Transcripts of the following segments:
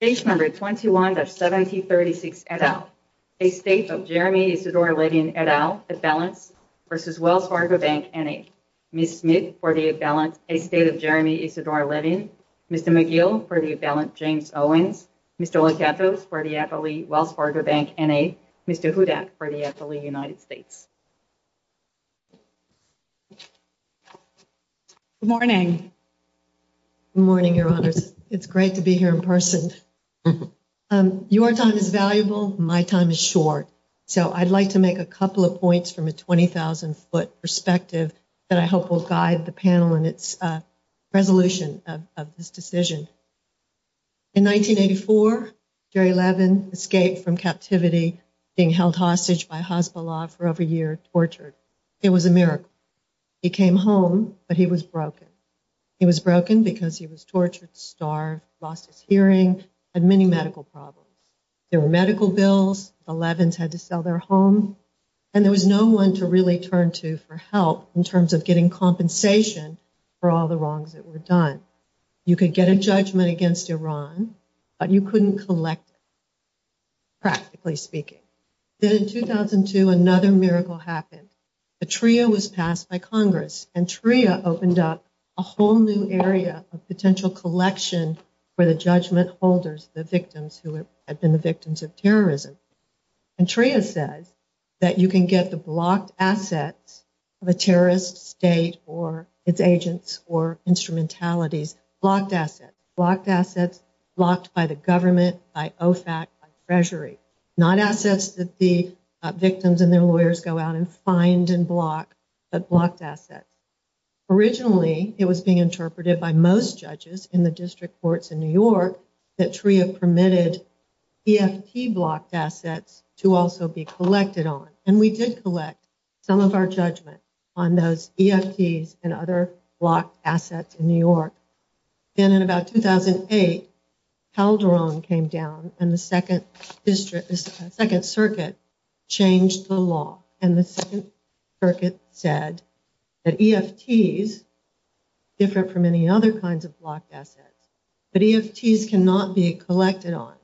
Page number 21-1736 et al. A state of Jeremy Isidore Levin et al. A balance v. Wells Fargo Bank, N.A. Ms. Smith for the A balance A state of Jeremy Isidore Levin. Mr. McGill for the A balance James Owens. Mr. Locato for the FLE Wells Fargo Bank, N.A. Mr. Huda for the FLE United States. Good morning. It's great to be here in person. Your time is valuable, my time is short. So I'd like to make a couple of points from a 20,000 foot perspective that I hope will guide the panel in its resolution of this decision. In 1984, Jerry Levin escaped from captivity, being held hostage by hospital law for over a year, tortured. It was a miracle. He came home, but he was broken. He was broken because he was tortured, starved, lost his hearing, had many medical problems. There were medical bills, Levin's had to sell their home, and there was no one to really turn to for help in terms of getting compensation for all the wrongs that were done. You could get a judgment against Iran, but you couldn't collect, practically speaking. Then in 2002, another miracle happened. A TRIA was passed by Congress, and TRIA opened up a whole new area of potential collection for the judgment holders, the victims who had been the victims of terrorism. And TRIA said that you can get the blocked assets of a terrorist state or its agents or instrumentalities, blocked assets, blocked assets blocked by the government, by OFAC, by Treasury. Not assets that the victims and their lawyers go out and find and block, but blocked assets. Originally, it was being interpreted by most judges in the district courts in New York that TRIA permitted BFP blocked assets to also be collected on. And we did collect some of our judgment on those BFPs and other blocked assets in New York. Then in about 2008, Calderon came down, and the Second Circuit changed the law. And the Second Circuit said that EFTs, different from any other kinds of blocked assets, that EFTs cannot be collected on.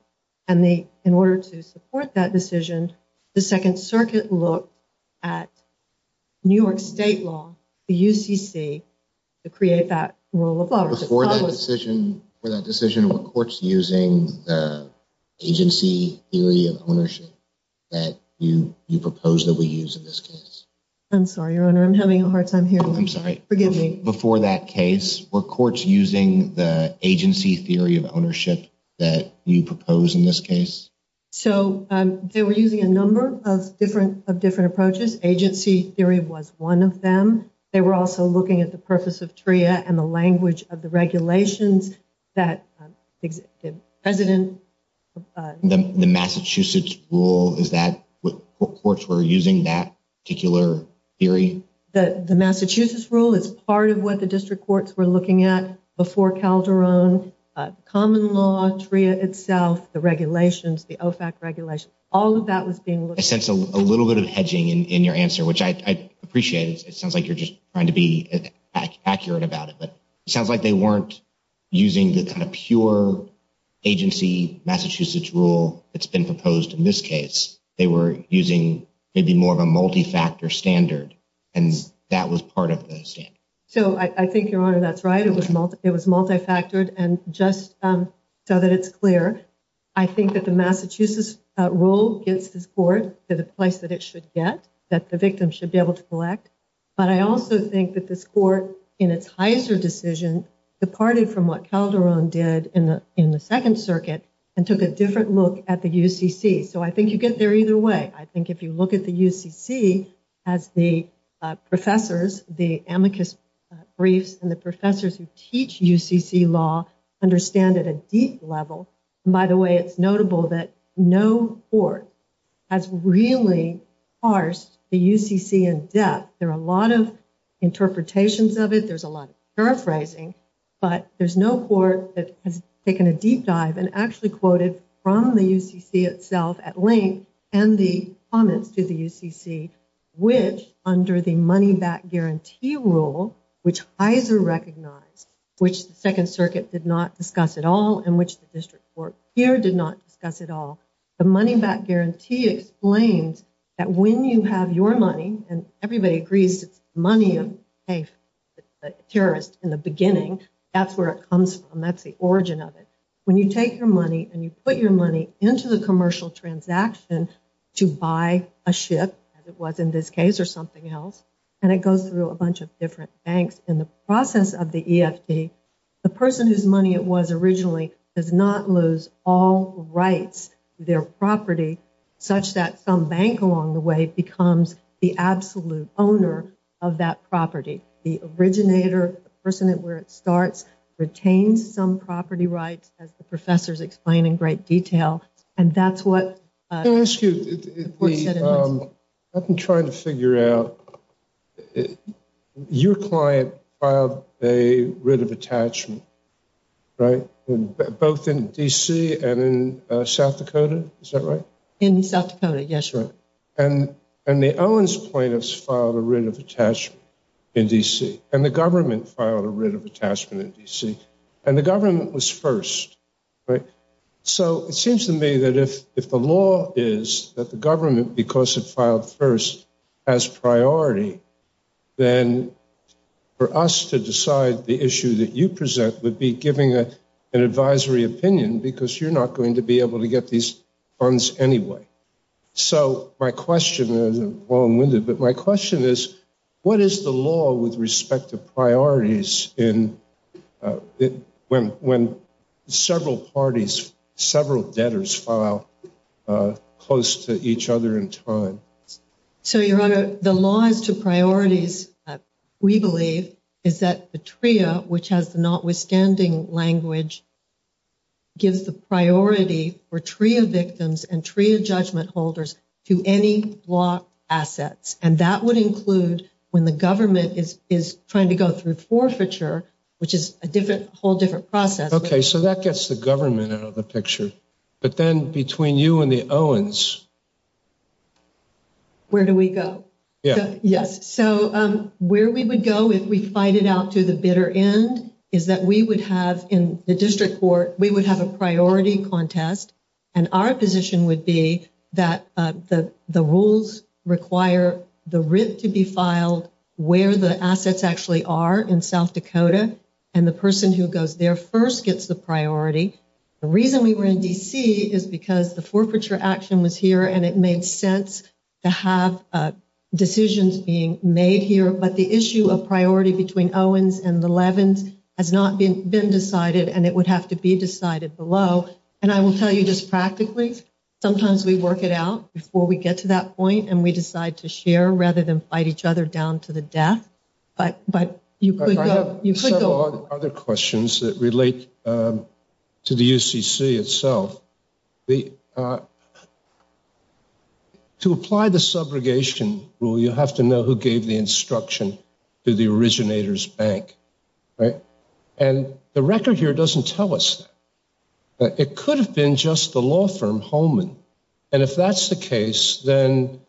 And in order to support that decision, the Second Circuit looked at New York state law, the UCC, to create that rule of law. Before that decision, were courts using the agency theory of ownership that you proposed that we use in this case? I'm sorry, Your Honor, I'm having a hard time hearing you. I'm sorry. Forgive me. Before that case, were courts using the agency theory of ownership that you proposed in this case? So, they were using a number of different approaches. Agency theory was one of them. They were also looking at the purpose of TRIA and the language of the regulations that existed. The Massachusetts rule, is that what courts were using, that particular theory? The Massachusetts rule is part of what the district courts were looking at before Calderon. Common law, TRIA itself, the regulations, the OFAC regulations, all of that was being looked at. I sense a little bit of hedging in your answer, which I appreciate. It sounds like you're just trying to be accurate about it. But it sounds like they weren't using the kind of pure agency Massachusetts rule that's been proposed in this case. They were using maybe more of a multi-factor standard, and that was part of this. So, I think, Your Honor, that's right. It was multi-factored. And just so that it's clear, I think that the Massachusetts rule gives this court the place that it should get, that the victim should be able to collect. But I also think that this court, in its Heiser decision, departed from what Calderon did in the Second Circuit and took a different look at the UCC. So, I think you get there either way. I think if you look at the UCC as the professors, the amicus briefs, and the professors who teach UCC law understand it at a deep level. By the way, it's notable that no court has really parsed the UCC in depth. There are a lot of interpretations of it. There's a lot of paraphrasing. But there's no court that has taken a deep dive and actually quoted from the UCC itself at length and the comments to the UCC, which under the money-back guarantee rule, which Heiser recognized, which the Second Circuit did not discuss at all, and which the district court here did not discuss at all, the money-back guarantee explains that when you have your money, and everybody agrees that money in banks is a terrorist in the beginning, that's where it comes from. That's the origin of it. When you take your money and you put your money into the commercial transactions to buy a ship, as it was in this case or something else, and it goes through a bunch of different banks in the process of the EFC, the person whose money it was originally does not lose all rights to their property, such that some bank along the way becomes the absolute owner of that property. The originator, the person where it starts, retains some property rights, as the professors explain in great detail. Can I ask you, I've been trying to figure out, your client filed a writ of attachment, right, both in D.C. and in South Dakota, is that right? In South Dakota, yes, sir. And the Owens plaintiffs filed a writ of attachment in D.C., and the government filed a writ of attachment in D.C., and the government was first, right? So it seems to me that if the law is that the government, because it filed first, has priority, then for us to decide the issue that you present would be giving an advisory opinion, because you're not going to be able to get these funds anyway. So my question is, what is the law with respect to priorities when several parties, several debtors file close to each other in time? So, Your Honor, the law to priorities, we believe, is that the TRIA, which has notwithstanding language, gives the priority for TRIA victims and TRIA judgment holders to any block assets. And that would include when the government is trying to go through forfeiture, which is a whole different process. Okay, so that gets the government out of the picture. But then between you and the Owens. Where do we go? Yes. So where we would go if we fight it out to the bitter end is that we would have, in the district court, we would have a priority contest, and our position would be that the rules require the writ to be filed where the assets actually are in South Dakota, and the person who goes there first gets the priority. The reason we were in D.C. is because the forfeiture action was here, and it made sense to have decisions being made here. But the issue of priority between Owens and Levin has not been decided, and it would have to be decided below. And I will tell you this practically. Sometimes we work it out before we get to that point, and we decide to share rather than fight each other down to the death. You could go. I have several other questions that relate to the UCC itself. To apply the subrogation rule, you have to know who gave the instruction to the originator's bank, right? And the record here doesn't tell us that. It could have been just the law firm, Holman. And if that's the case, then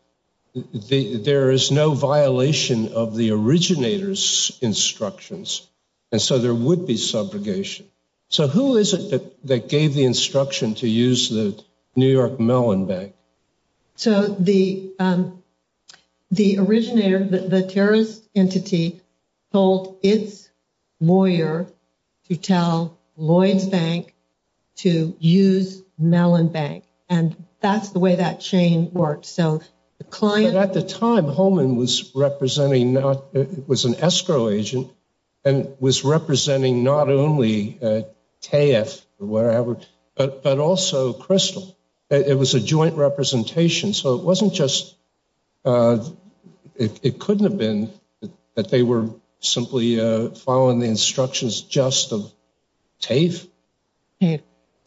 there is no violation of the originator's instructions, and so there would be subrogation. So who is it that gave the instruction to use the New York Mellon Bank? So the originator, the terrorist entity, told its lawyer to tell Lloyd Bank to use Mellon Bank. And that's the way that chain works. At the time, Holman was an escrow agent and was representing not only KF, but also Crystal. It was a joint representation, so it couldn't have been that they were simply following the instructions just of TAFE. Is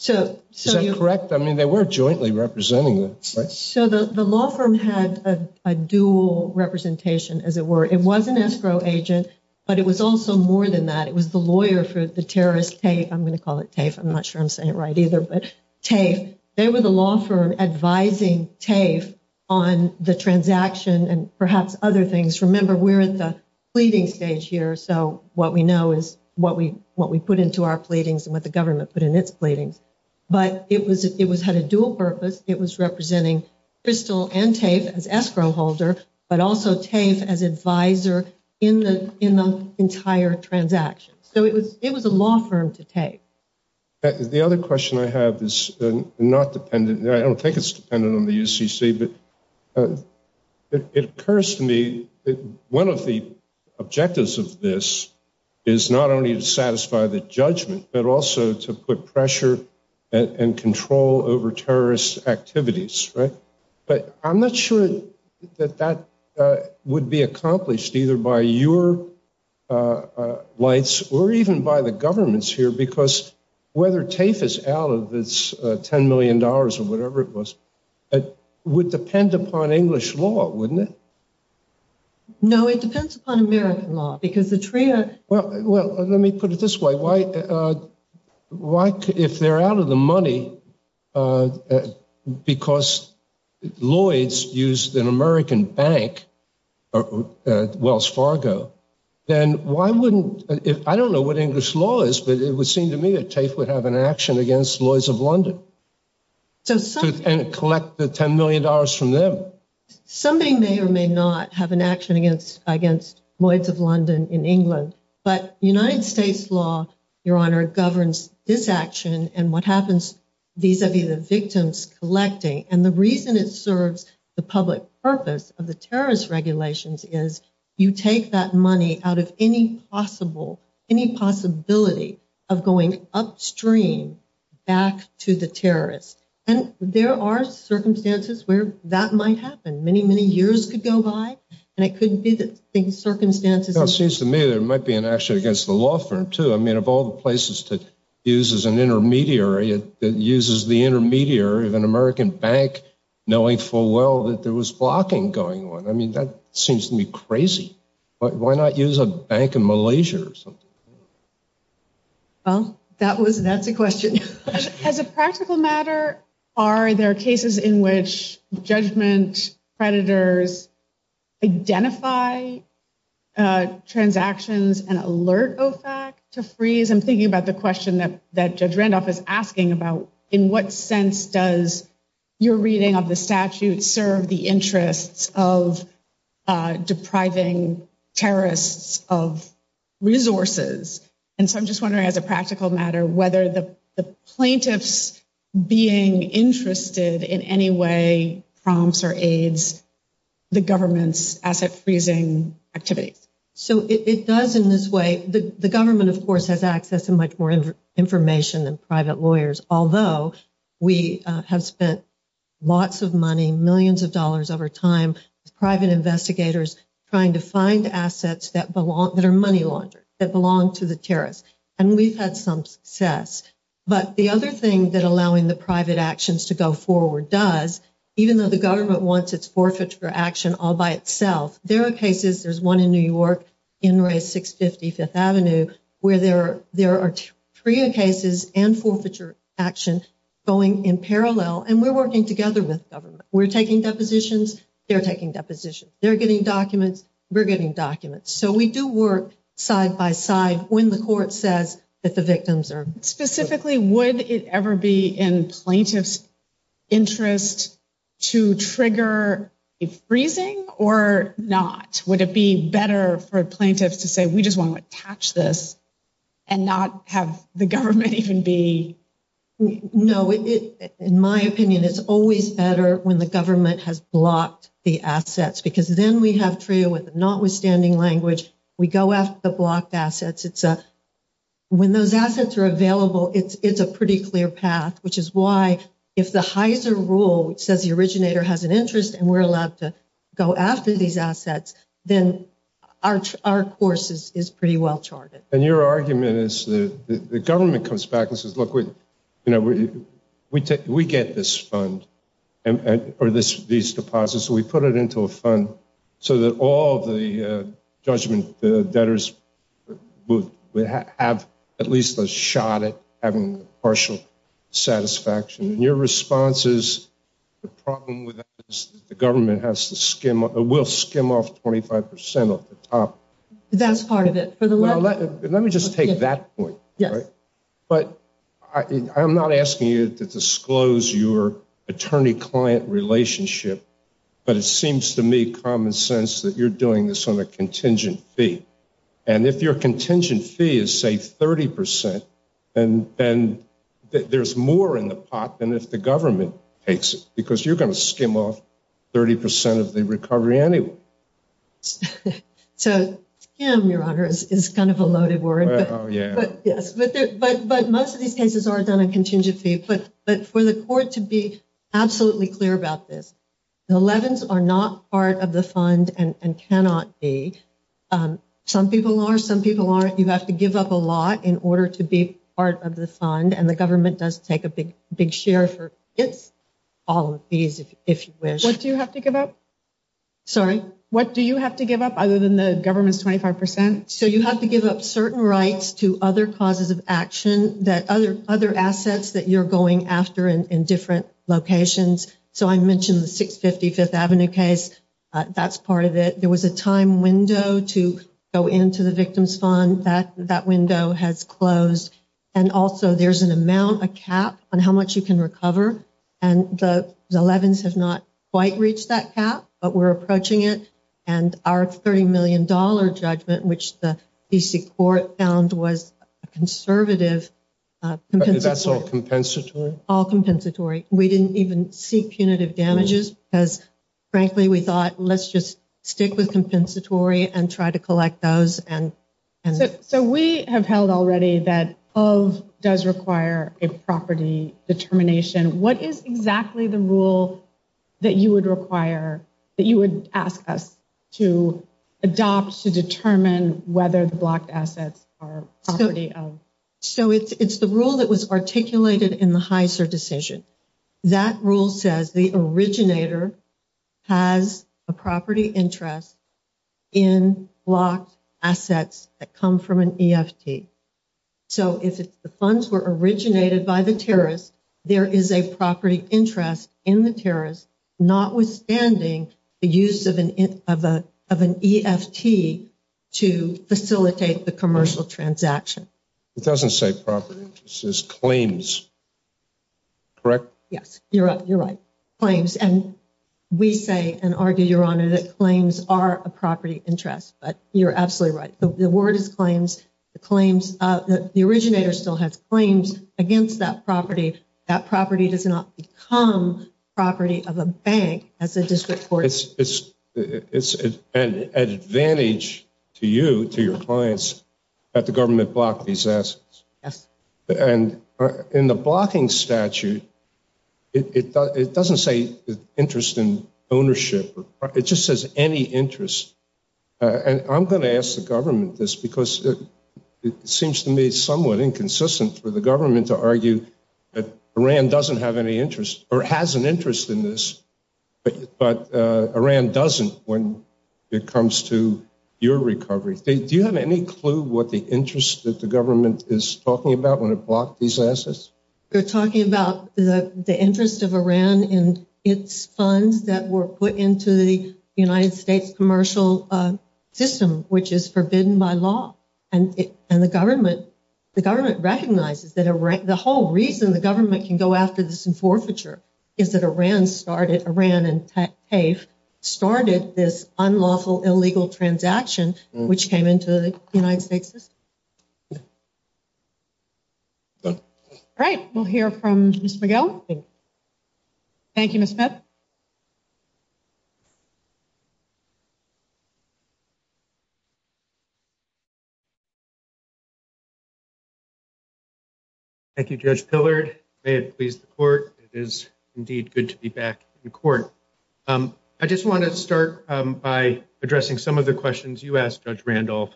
that correct? I mean, they weren't jointly representing them, right? So the law firm had a dual representation, as it were. It was an escrow agent, but it was also more than that. It was the lawyer for the terrorist TAFE. I'm going to call it TAFE. I'm not sure I'm saying it right either, but TAFE. They were the law firm advising TAFE on the transaction and perhaps other things. Remember, we're at the pleading stage here, so what we know is what we put into our pleadings and what the government put in its pleadings. But it had a dual purpose. It was representing Crystal and TAFE as escrow holder, but also TAFE as advisor in the entire transaction. So it was a law firm to TAFE. The other question I have is not dependent. I don't think it's dependent on the UCC, but it occurs to me that one of the objectives of this is not only to satisfy the judgment, but also to put pressure and control over terrorist activities, right? But I'm not sure that that would be accomplished either by your lights or even by the governments here, because whether TAFE is out of its $10 million or whatever it was, it would depend upon English law, wouldn't it? No, it depends upon American law, because the TRIA... Well, let me put it this way. If they're out of the money because Lloyds used an American bank, Wells Fargo, then why wouldn't... I don't know what English law is, but it would seem to me that TAFE would have an action against Lloyds of London and collect the $10 million from them. Somebody may or may not have an action against Lloyds of London in England, but United States law, Your Honor, governs this action and what happens vis-a-vis the victims collecting. And the reason it serves the public purpose of the terrorist regulations is you take that money out of any possibility of going upstream back to the terrorists. And there are circumstances where that might happen. Many, many years could go by, and it couldn't be the circumstances... It seems to me there might be an action against the law firm, too. I mean, of all the places to use as an intermediary, it uses the intermediary of an American bank, knowing full well that there was blocking going on. I mean, that seems to me crazy. Why not use a bank in Malaysia or something? Well, that's a question. As a practical matter, are there cases in which judgment creditors identify transactions and alert OFAC to freeze? I'm thinking about the question that Judge Randolph is asking about, in what sense does your reading of the statute serve the interests of depriving terrorists of resources? And so I'm just wondering, as a practical matter, whether the plaintiff's being interested in any way prompts or aids the government's asset freezing activity. So it does in this way. The government, of course, has access to much more information than private lawyers. Although we have spent lots of money, millions of dollars over time, private investigators trying to find assets that are money laundered, that belong to the terrorists. And we've had some success. But the other thing that allowing the private actions to go forward does, even though the government wants its forfeiture action all by itself, there are cases, there's one in New York, En-ray, 650 Fifth Avenue, where there are trio cases and forfeiture actions going in parallel. And we're working together with government. We're taking depositions, they're taking depositions. They're getting documents, we're getting documents. So we do work side by side when the court says that the victims are. Specifically, would it ever be in plaintiff's interest to trigger freezing or not? Would it be better for plaintiffs to say, we just want to catch this and not have the government even be. No, in my opinion, it's always better when the government has blocked the assets, because then we have treated with notwithstanding language. We go after the blocked assets. It's when those assets are available, it's a pretty clear path, which is why if the Heiser rule says the originator has an interest and we're allowed to go after these assets, then our course is pretty well charted. And your argument is the government comes back and says, look, we get this fund or these deposits, we put it into a fund so that all the judgment debtors would have at least a shot at having partial satisfaction. And your response is the problem with that is the government will skim off 25% of the top. That's part of it. Let me just take that point. But I'm not asking you to disclose your attorney-client relationship, but it seems to me common sense that you're doing this on a contingent fee. And if your contingent fee is, say, 30%, then there's more in the pot than if the government takes it, because you're going to skim off 30% of the recovery anyway. Skim, Your Honor, is kind of a loaded word. But most of these cases are done on contingent fees. But for the court to be absolutely clear about this, the 11s are not part of the fund and cannot be. Some people are, some people aren't. You have to give up a lot in order to be part of the fund, and the government does take a big share for all of these, if you wish. What do you have to give up? Sorry, what do you have to give up other than the government's 25%? So you have to give up certain rights to other causes of action, other assets that you're going after in different locations. So I mentioned the 650 Fifth Avenue case. That's part of it. There was a time window to go into the victim's fund. That window has closed. And also there's an amount, a cap, on how much you can recover. And the 11s has not quite reached that cap, but we're approaching it. And our $30 million judgment, which the D.C. court found was conservative. That's all compensatory? All compensatory. We didn't even seek punitive damages because, frankly, we thought, let's just stick with compensatory and try to collect those. So we have held already that of does require a property determination. What is exactly the rule that you would require, that you would ask us to adopt to determine whether the blocked assets are property of? So it's the rule that was articulated in the Heiser decision. That rule says the originator has a property interest in blocked assets that come from an EFT. So if the funds were originated by the terrorist, there is a property interest in the terrorist, notwithstanding the use of an EFT to facilitate the commercial transaction. It doesn't say property interest. It says claims. Correct? Yes, you're right. Claims. And we say and argue, Your Honor, that claims are a property interest. But you're absolutely right. So the word claims, the claims, the originator still has claims against that property. That property does not become property of a bank at the district court. It's an advantage to you, to your clients, that the government blocked these assets. And in the blocking statute, it doesn't say interest in ownership. It just says any interest. And I'm going to ask the government this because it seems to me somewhat inconsistent for the government to argue that Iran doesn't have any interest or has an interest in this. But Iran doesn't when it comes to your recovery. Do you have any clue what the interest that the government is talking about when it blocked these assets? They're talking about the interest of Iran and its funds that were put into the United States commercial system, which is forbidden by law. And the government, the government recognizes that the whole reason the government can go after this in forfeiture is that Iran started Iran and started this unlawful illegal transaction, which came into the United States. Right. We'll hear from Mr. Thank you. Thank you, Judge Pillard. It is indeed good to be back in court. I just want to start by addressing some of the questions you asked Judge Randolph.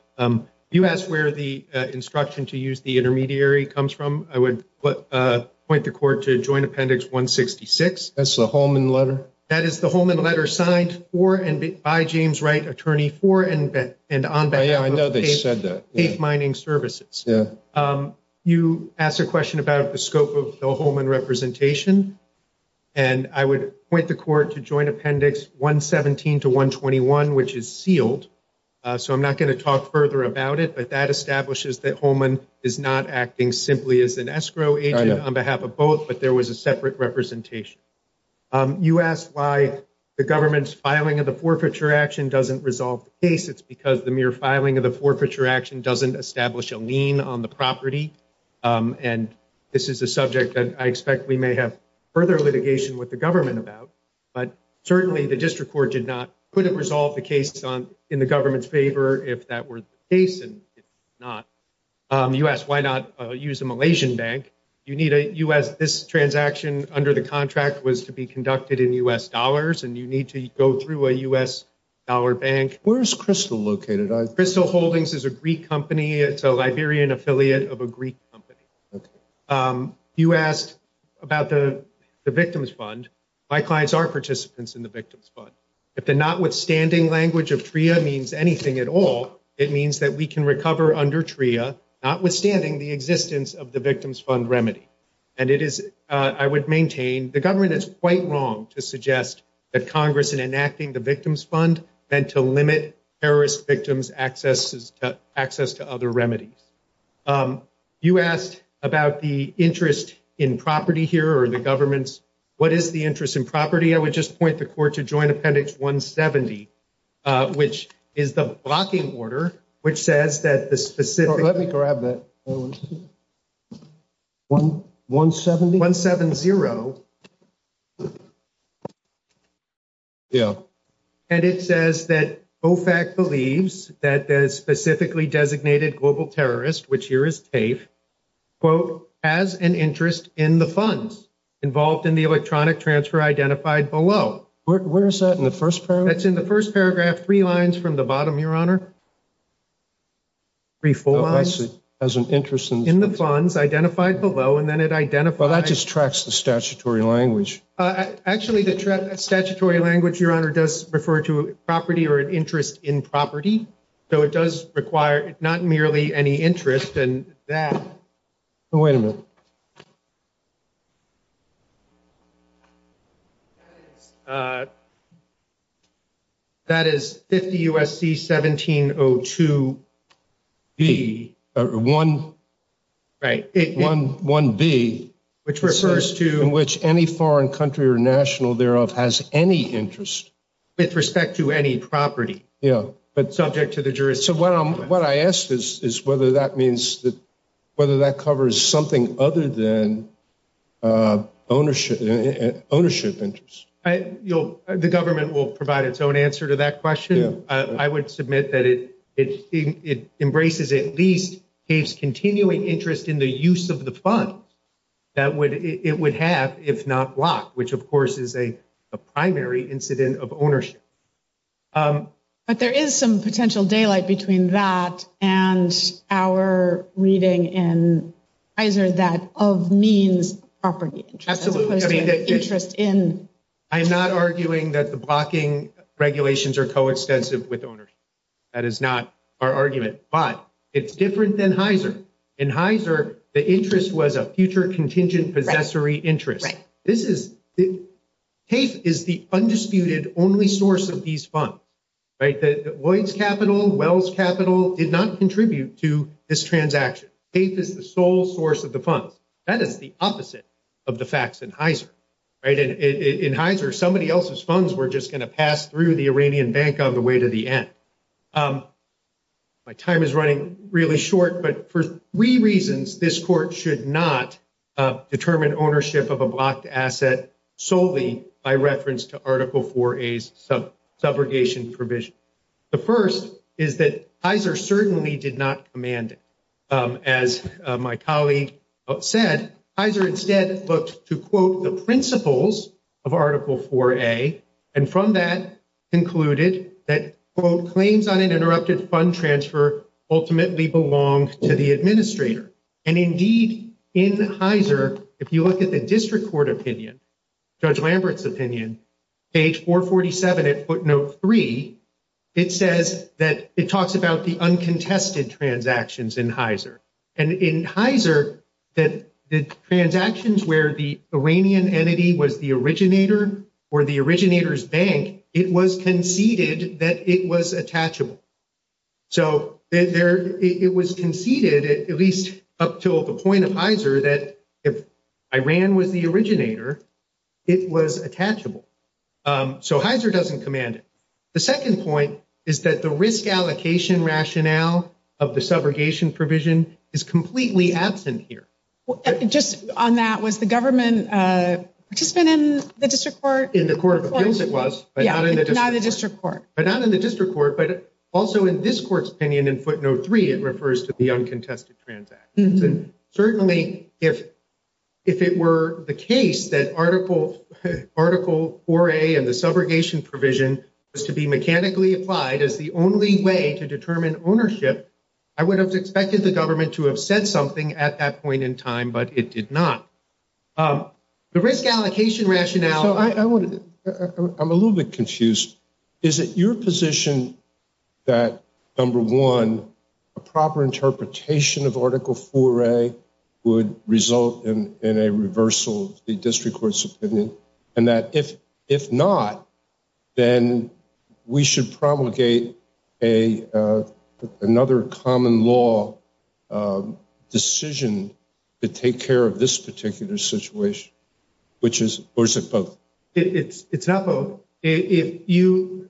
You asked where the instruction to use the intermediary comes from. I would point the court to joint appendix 166. That's the Holman letter. That is the Holman letter signed for and by James Wright, attorney for and on that. I know they said that mining services. You asked a question about the scope of the Holman representation, and I would point the court to joint appendix 117 to 121, which is sealed. So I'm not going to talk further about it. But that establishes that Holman is not acting simply as an escrow agent on behalf of both. But there was a separate representation. You asked why the government's filing of the forfeiture action doesn't resolve the case. It's because the mere filing of the forfeiture action doesn't establish a lien on the property. And this is a subject that I expect we may have further litigation with the government about. But certainly the district court did not put a resolve the case on in the government's favor. If that were the case and not, you asked why not use the Malaysian bank? You need a U.S. This transaction under the contract was to be conducted in U.S. dollars. And you need to go through a U.S. dollar bank. Where is Crystal located? Crystal Holdings is a Greek company. It's a Liberian affiliate of a Greek company. You asked about the victim's fund. My clients are participants in the victim's fund. If the notwithstanding language of TRIA means anything at all, it means that we can recover under TRIA, notwithstanding the existence of the victim's fund remedy. I would maintain the government is quite wrong to suggest that Congress in enacting the victim's fund meant to limit terrorist victims' access to other remedies. You asked about the interest in property here or the government's. What is the interest in property? I would just point the court to Joint Appendix 170, which is the blocking order, which says that the specific Let me grab that. 170? 170. Yeah. And it says that OFAC believes that a specifically designated global terrorist, which here is TAFE, quote, has an interest in the funds involved in the electronic transfer identified below. Where is that in the first paragraph? That's in the first paragraph, three lines from the bottom, Your Honor. Reforms in the funds identified below, and then it identifies. Well, that just tracks the statutory language. Actually, the statutory language, Your Honor, does refer to property or an interest in property. So it does require not merely any interest in that. Wait a minute. That is 50 U.S.C. 1702 B, or 1 B, which refers to which any foreign country or national thereof has any interest. With respect to any property. Yeah. But subject to the jurisdiction. So what I ask is whether that means that whether that covers something other than ownership, ownership interest. The government will provide its own answer to that question. I would submit that it embraces at least its continuing interest in the use of the funds that it would have if not blocked, which, of course, is a primary incident of ownership. But there is some potential daylight between that and our reading in HEISR that of means property. Absolutely. I am not arguing that the blocking regulations are coextensive with ownership. That is not our argument. But it's different than HEISR. In HEISR, the interest was a future contingent possessory interest. Right. CAFE is the undisputed only source of these funds. Right. Lloyd's Capital, Wells Capital did not contribute to this transaction. CAFE is the sole source of the funds. That is the opposite of the facts in HEISR. Right. In HEISR, somebody else's funds were just going to pass through the Iranian bank on the way to the end. My time is running really short. But for three reasons, this court should not determine ownership of a blocked asset solely by reference to Article IV-A's subrogation provision. The first is that HEISR certainly did not command it. As my colleague said, HEISR instead looked to, quote, the principles of Article IV-A. And from that concluded that, quote, claims on an interrupted fund transfer ultimately belonged to the administrator. And indeed, in HEISR, if you look at the district court opinion, Judge Lambert's opinion, page 447 at footnote 3, it says that it talks about the uncontested transactions in HEISR. And in HEISR, the transactions where the Iranian entity was the originator or the originator's bank, it was conceded that it was attachable. So it was conceded, at least up to the point of HEISR, that if Iran was the originator, it was attachable. So HEISR doesn't command it. The second point is that the risk allocation rationale of the subrogation provision is completely absent here. Just on that, was the government participant in the district court? In the court of offense it was, but not in the district court. But not in the district court, but also in this court's opinion in footnote 3, it refers to the uncontested transactions. Certainly, if it were the case that Article 4A of the subrogation provision was to be mechanically applied as the only way to determine ownership, I would have expected the government to have said something at that point in time, but it did not. The risk allocation rationale... I'm a little bit confused. Is it your position that, number one, a proper interpretation of Article 4A would result in a reversal of the district court's opinion? And that if not, then we should promulgate another common law decision to take care of this particular situation? Or is it both? It's not both. If you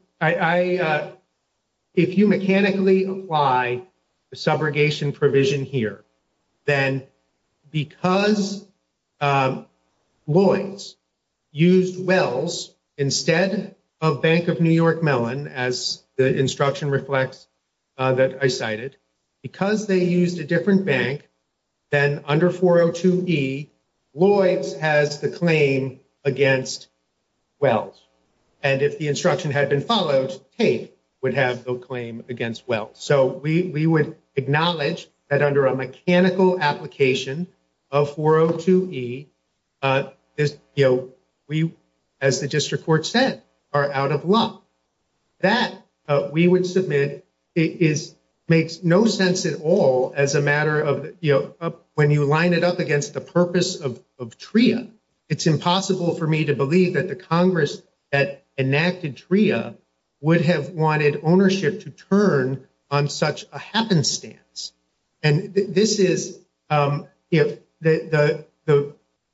mechanically apply the subrogation provision here, then because Lloyds used Wells instead of Bank of New York Mellon, as the instruction reflects that I cited, because they used a different bank, then under 402E, Lloyds has the claim against Wells. And if the instruction had been followed, Tate would have the claim against Wells. So we would acknowledge that under a mechanical application of 402E, we, as the district court said, are out of luck. That, we would submit, makes no sense at all as a matter of, you know, when you line it up against the purpose of TRIA, it's impossible for me to believe that the Congress that enacted TRIA would have wanted ownership to turn on such a happenstance. And this is, you know, the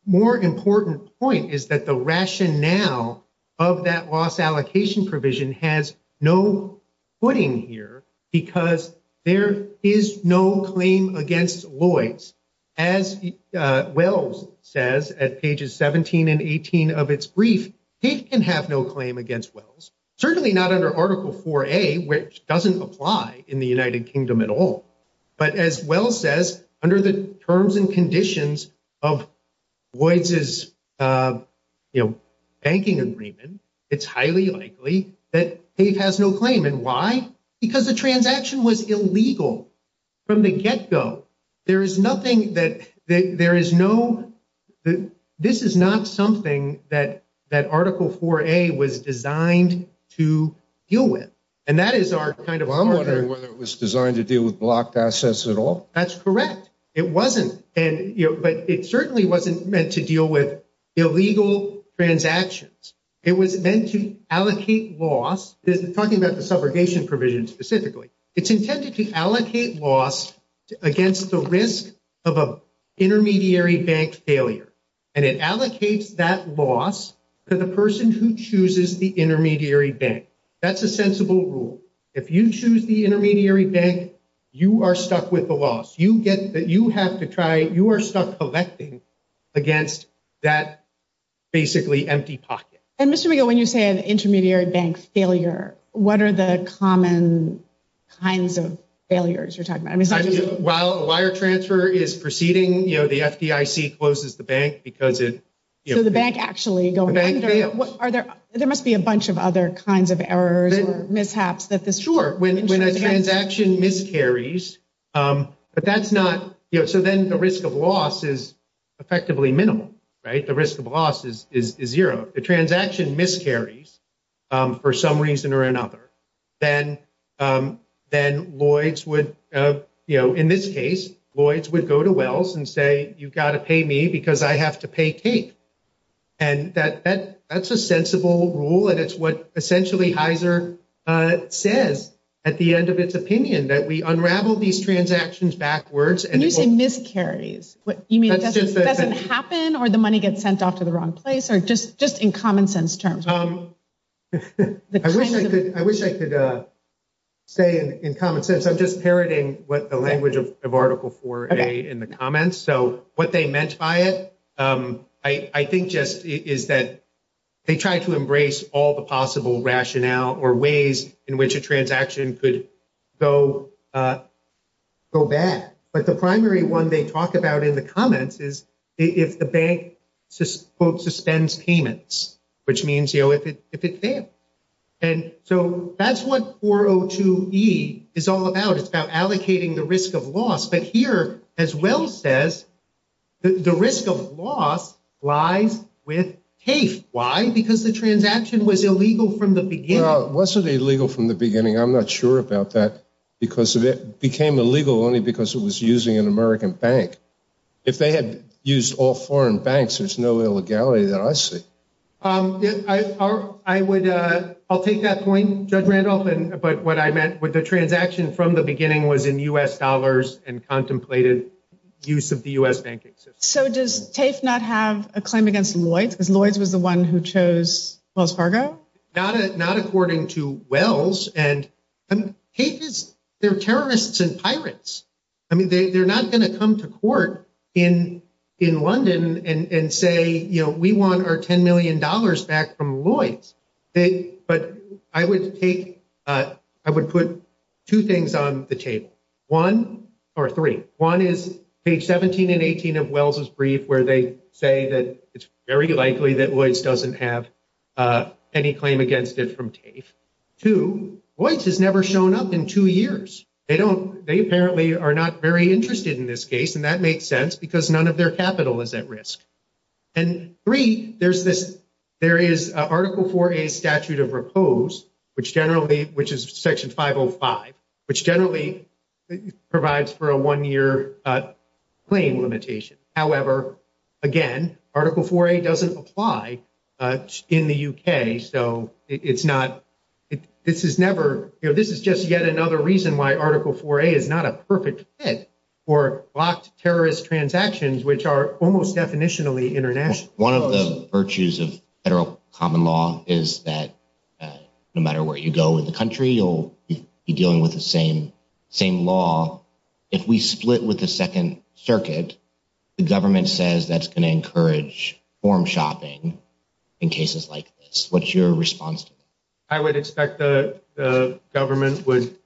more important point is that the rationale of that loss allocation provision has no footing here because there is no claim against Lloyds. As Wells says at pages 17 and 18 of its brief, Tate can have no claim against Wells, certainly not under Article 4A, which doesn't apply in the United Kingdom at all. But as Wells says, under the terms and conditions of Lloyds' banking agreement, it's highly likely that Tate has no claim. And why? Because the transaction was illegal from the get-go. There is nothing that, there is no, this is not something that Article 4A was designed to deal with. Well, I'm wondering whether it was designed to deal with blocked assets at all. That's correct. It wasn't. And, you know, but it certainly wasn't meant to deal with illegal transactions. It was meant to allocate loss, talking about the subrogation provision specifically, it's intended to allocate loss against the risk of an intermediary bank failure. And it allocates that loss to the person who chooses the intermediary bank. That's a sensible rule. If you choose the intermediary bank, you are stuck with the loss. You get, you have to try, you are stuck collecting against that basically empty pocket. And Mr. McGill, when you say an intermediary bank failure, what are the common kinds of failures you're talking about? While a wire transfer is proceeding, you know, the FDIC closes the bank because it... So the bank actually going... The bank... Are there, there must be a bunch of other kinds of errors or mishaps that this... Sure. When a transaction miscarries, but that's not, you know, so then the risk of loss is effectively minimal, right? The risk of loss is zero. The transaction miscarries for some reason or another, then Lloyds would, you know, in this case, Lloyds would go to Wells and say, you've got to pay me because I have to pay Kate. And that's a sensible rule, and it's what essentially Heizer says at the end of its opinion, that we unravel these transactions backwards and... What do you mean miscarries? You mean it doesn't happen or the money gets sent off to the wrong place or just in common sense terms? I wish I could say in common sense. I'm just parroting what the language of Article 4A in the comments. So what they meant by it, I think just is that they try to embrace all the possible rationale or ways in which a transaction could go bad. But the primary one they talk about in the comments is if the bank, quote, suspends payments, which means, you know, if it's there. And so that's what 402E is all about. It's about allocating the risk of loss. But here, as Wells says, the risk of loss lies with Kate. Why? Because the transaction was illegal from the beginning. Well, it wasn't illegal from the beginning. I'm not sure about that because it became illegal only because it was using an American bank. If they had used all foreign banks, there's no illegality that I see. I'll take that point, Judge Randolph, but what I meant with the transaction from the beginning was in U.S. dollars and contemplated use of the U.S. banking system. So does Kate not have a claim against Lloyds? Because Lloyds was the one who chose Wells Fargo? Not according to Wells. And Kate is – they're terrorists and pirates. I mean, they're not going to come to court in London and say, you know, we want our $10 million back from Lloyds. But I would take – I would put two things on the table. One – or three. One is page 17 and 18 of Wells' brief where they say that it's very likely that Lloyds doesn't have any claim against it from TAFE. Two, Lloyds has never shown up in two years. They don't – they apparently are not very interested in this case, and that makes sense because none of their capital is at risk. And three, there's this – there is Article 4A statute of repose, which generally – which is Section 505, which generally provides for a one-year claim limitation. However, again, Article 4A doesn't apply in the U.K., so it's not – this is never – this is just yet another reason why Article 4A is not a perfect fit for blocked terrorist transactions, which are almost definitionally international. One of the virtues of federal common law is that no matter where you go in the country, you'll be dealing with the same law. If we split with the Second Circuit, the government says that's going to encourage form shopping in cases like this. What's your response to that? I would expect the government would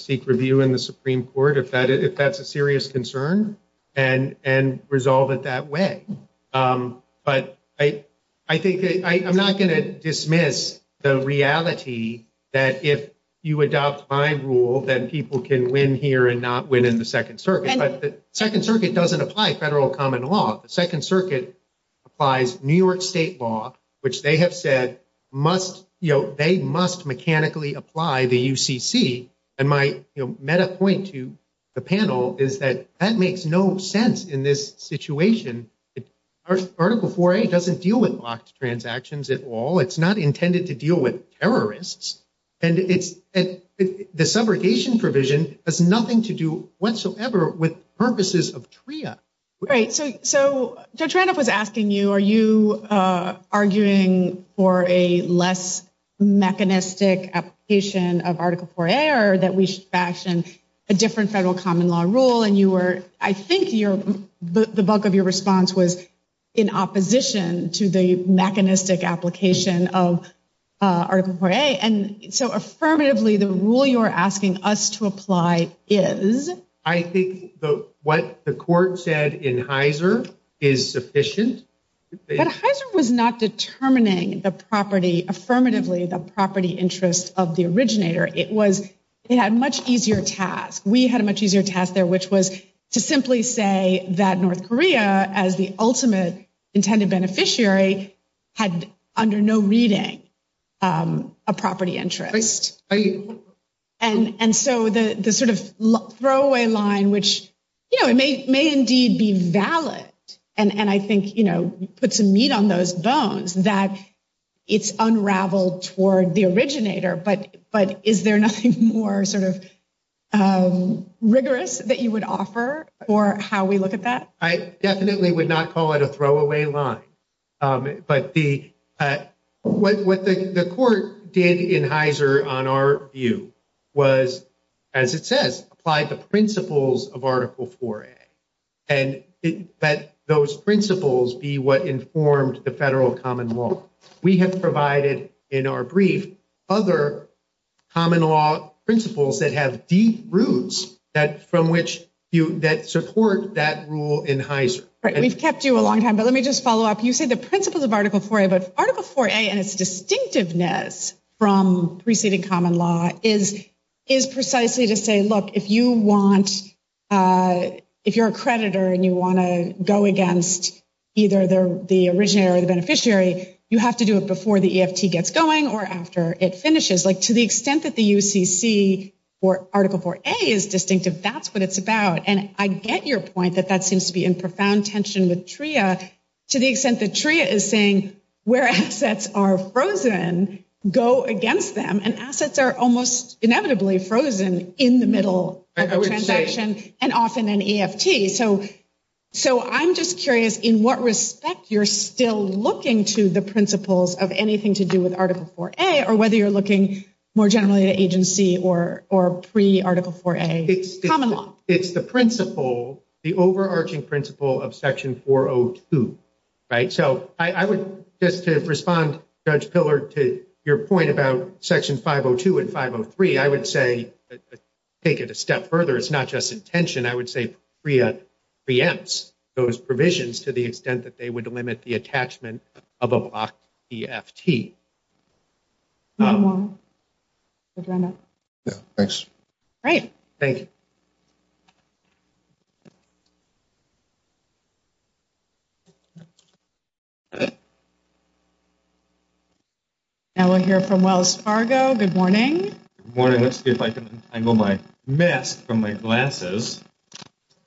seek review in the Supreme Court if that's a serious concern and resolve it that way. But I think – I'm not going to dismiss the reality that if you adopt my rule, then people can win here and not win in the Second Circuit. But the Second Circuit doesn't apply federal common law. The Second Circuit applies New York state law, which they have said must – they must mechanically apply the UCC. And my meta point to the panel is that that makes no sense in this situation. Article 4A doesn't deal with blocked transactions at all. It's not intended to deal with terrorists. And the subrogation provision has nothing to do whatsoever with purposes of TRIA. Right. So Tranoff was asking you, are you arguing for a less mechanistic application of Article 4A or that we should fashion a different federal common law rule? And you were – I think the bulk of your response was in opposition to the mechanistic application of Article 4A. And so affirmatively, the rule you're asking us to apply is? I think what the court said in Heiser is sufficient. But Heiser was not determining the property – affirmatively, the property interest of the originator. It was – it had a much easier task. We had a much easier task there, which was to simply say that North Korea, as the ultimate intended beneficiary, had under no reading a property interest. And so the sort of throwaway line, which may indeed be valid, and I think puts a meat on those bones, that it's unraveled toward the originator. But is there nothing more sort of rigorous that you would offer for how we look at that? I definitely would not call it a throwaway line. But the – what the court did in Heiser, on our view, was, as it says, apply the principles of Article 4A. And it – that those principles be what informed the federal common law. We have provided in our brief other common law principles that have deep roots that – from which you – that support that rule in Heiser. We've kept you a long time, but let me just follow up. You say the principles of Article 4A, but Article 4A and its distinctiveness from preceding common law is precisely to say, look, if you want – if you're a creditor and you want to go against either the originator or the beneficiary, you have to do it before the EFT gets going or after it finishes. Like, to the extent that the UCC or Article 4A is distinctive, that's what it's about. And I get your point that that seems to be in profound tension with TRIA, to the extent that TRIA is saying where assets are frozen, go against them. And assets are almost inevitably frozen in the middle of a transaction and often in EFT. So I'm just curious in what respect you're still looking to the principles of anything to do with Article 4A or whether you're looking more generally to agency or pre-Article 4A common law. It's the principle, the overarching principle of Section 402, right? So I would – just to respond, Judge Pillard, to your point about Section 502 and 503, I would say, taking it a step further, it's not just intention. I would say TRIA preempts those provisions to the extent that they would limit the attachment of a block to EFT. Thanks. Great. Thank you. Now we'll hear from Wells Fargo. Good morning. Good morning. Let's see if I can untangle my mask from my glasses.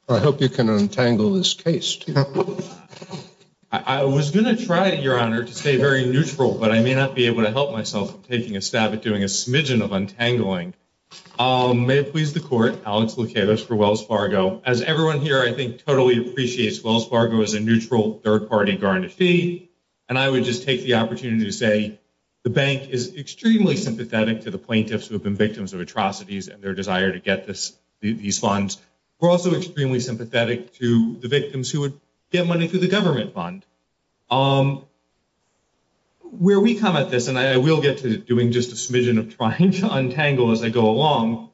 I hope you can untangle this case, too. I was going to try, Your Honor, to stay very neutral, but I may not be able to help myself from taking a stab at doing a smidgen of untangling. May it please the Court, I'll explicate this for Wells Fargo. As everyone here, I think, totally appreciates, Wells Fargo is a neutral third-party guarantee, and I would just take the opportunity to say the bank is extremely sympathetic to the plaintiffs who have been victims of atrocities and their desire to get these funds. We're also extremely sympathetic to the victims who would get money through the government fund. Where we come at this, and I will get to doing just a smidgen of trying to untangle as I go along,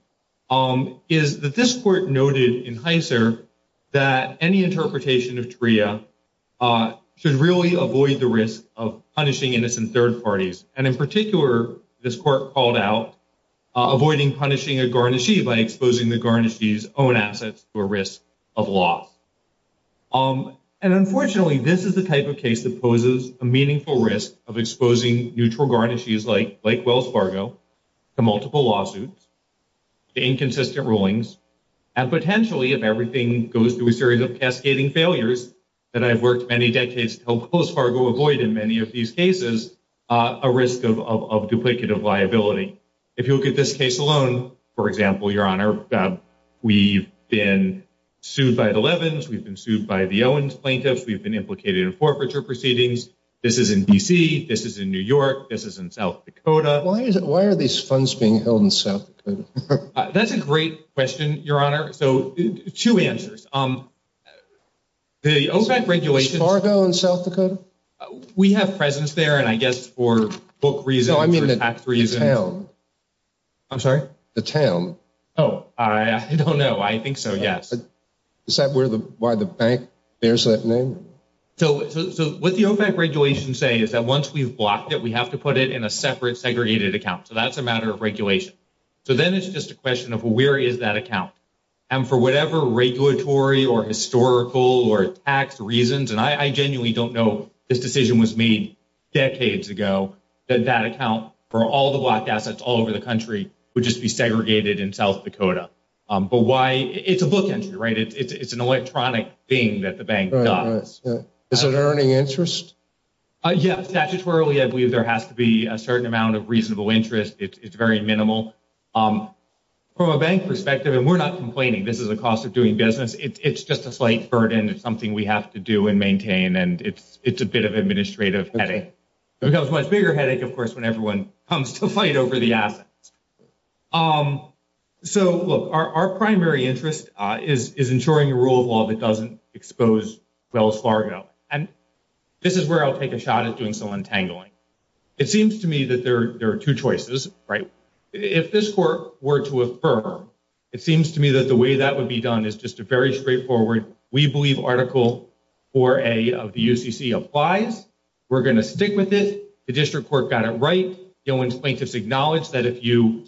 is that this Court noted in Heisser that any interpretation of TRIA should really avoid the risk of punishing innocent third parties. And in particular, this Court called out avoiding punishing a guarantee by exposing the guarantee's own assets to a risk of law. And unfortunately, this is the type of case that poses a meaningful risk of exposing neutral guarantees like Wells Fargo to multiple lawsuits, to inconsistent rulings, and potentially, if everything goes through a series of cascading failures that I've worked many decades to help Wells Fargo avoid in many of these cases, a risk of duplicative liability. If you look at this case alone, for example, Your Honor, we've been sued by the Levens, we've been sued by the Owens plaintiffs, we've been implicated in forfeiture proceedings. This is in D.C., this is in New York, this is in South Dakota. Why are these funds being held in South Dakota? That's a great question, Your Honor. So, two answers. The OSAC regulations… Is Wells Fargo in South Dakota? We have presence there, and I guess for book reasons… No, I mean the town. I'm sorry? The town. Oh, I don't know. I think so, yes. Is that why the bank bears that name? So, what the OVAC regulations say is that once we've blocked it, we have to put it in a separate segregated account. So, that's a matter of regulation. So, then it's just a question of where is that account? And for whatever regulatory or historical or tax reasons, and I genuinely don't know, this decision was made decades ago, that that account for all the blocked assets all over the country would just be segregated in South Dakota. But why – it's a book entry, right? It's an electronic thing that the bank does. Is it earning interest? Yes, statutorily I believe there has to be a certain amount of reasonable interest. It's very minimal. From a bank perspective, and we're not complaining. This is the cost of doing business. It's just a slight burden. It's something we have to do and maintain, and it's a bit of an administrative headache. It becomes a much bigger headache, of course, when everyone comes to fight over the assets. So, look, our primary interest is ensuring a rule of law that doesn't expose Wells Fargo. And this is where I'll take a shot at doing some untangling. It seems to me that there are two choices, right? If this court were to affirm, it seems to me that the way that would be done is just a very straightforward, we believe article 4A of the UCC applies. We're going to stick with it. The district court got it right. Gillen's plaintiffs acknowledged that if you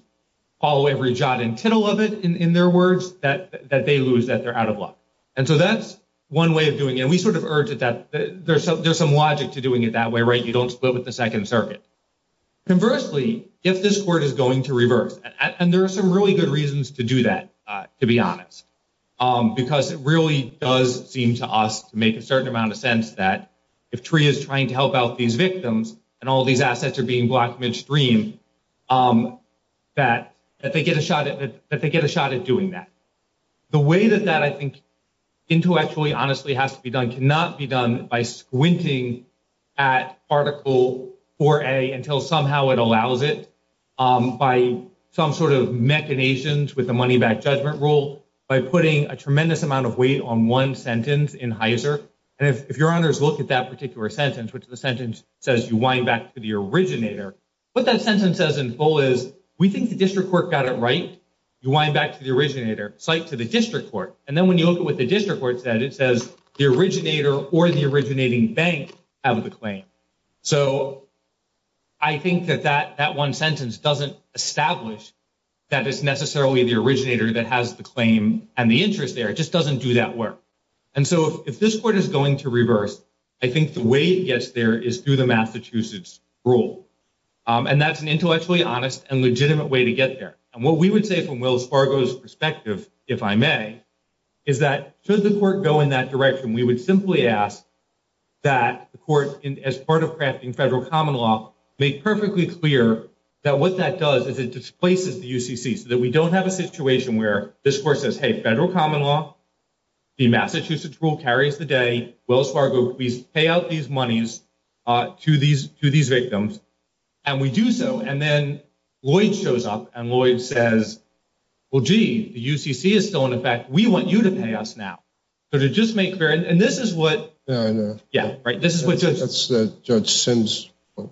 follow every jot and tittle of it, in their words, that they lose, that they're out of luck. And so that's one way of doing it. And we sort of urge that there's some logic to doing it that way, right? You don't split with the Second Circuit. Conversely, if this court is going to reverse, and there are some really good reasons to do that, to be honest, because it really does seem to us to make a certain amount of sense that if TREA is trying to help out these victims and all these assets are being blocked midstream, that they get a shot at doing that. The way that that, I think, intellectually, honestly, has to be done cannot be done by squinting at article 4A until somehow it allows it by some sort of machinations with the money back judgment rule, by putting a tremendous amount of weight on one sentence in Heiser. And if your honors look at that particular sentence, which the sentence says, you wind back to the originator, what that sentence says in full is, we think the district court got it right. You wind back to the originator, cite to the district court. And then when you look at what the district court said, it says, the originator or the originating bank have the claim. So I think that that one sentence doesn't establish that it's necessarily the originator that has the claim and the interest there. It just doesn't do that work. And so if this court is going to reverse, I think the way it gets there is through the Massachusetts rule. And that's an intellectually honest and legitimate way to get there. And what we would say from Wells Fargo's perspective, if I may, is that should the court go in that direction, we would simply ask that the court, as part of crafting federal common law, make perfectly clear that what that does is it displaces the UCC so that we don't have a situation where this court says, hey, federal common law, the Massachusetts rule carries the day. Wells Fargo, please pay out these monies to these victims. And we do so. And then Lloyd shows up, and Lloyd says, well, gee, the UCC is still in effect. We want you to pay us now. So to just make clear, and this is what ‑‑ Fair enough. Yeah, right? That's Judge Sin's point.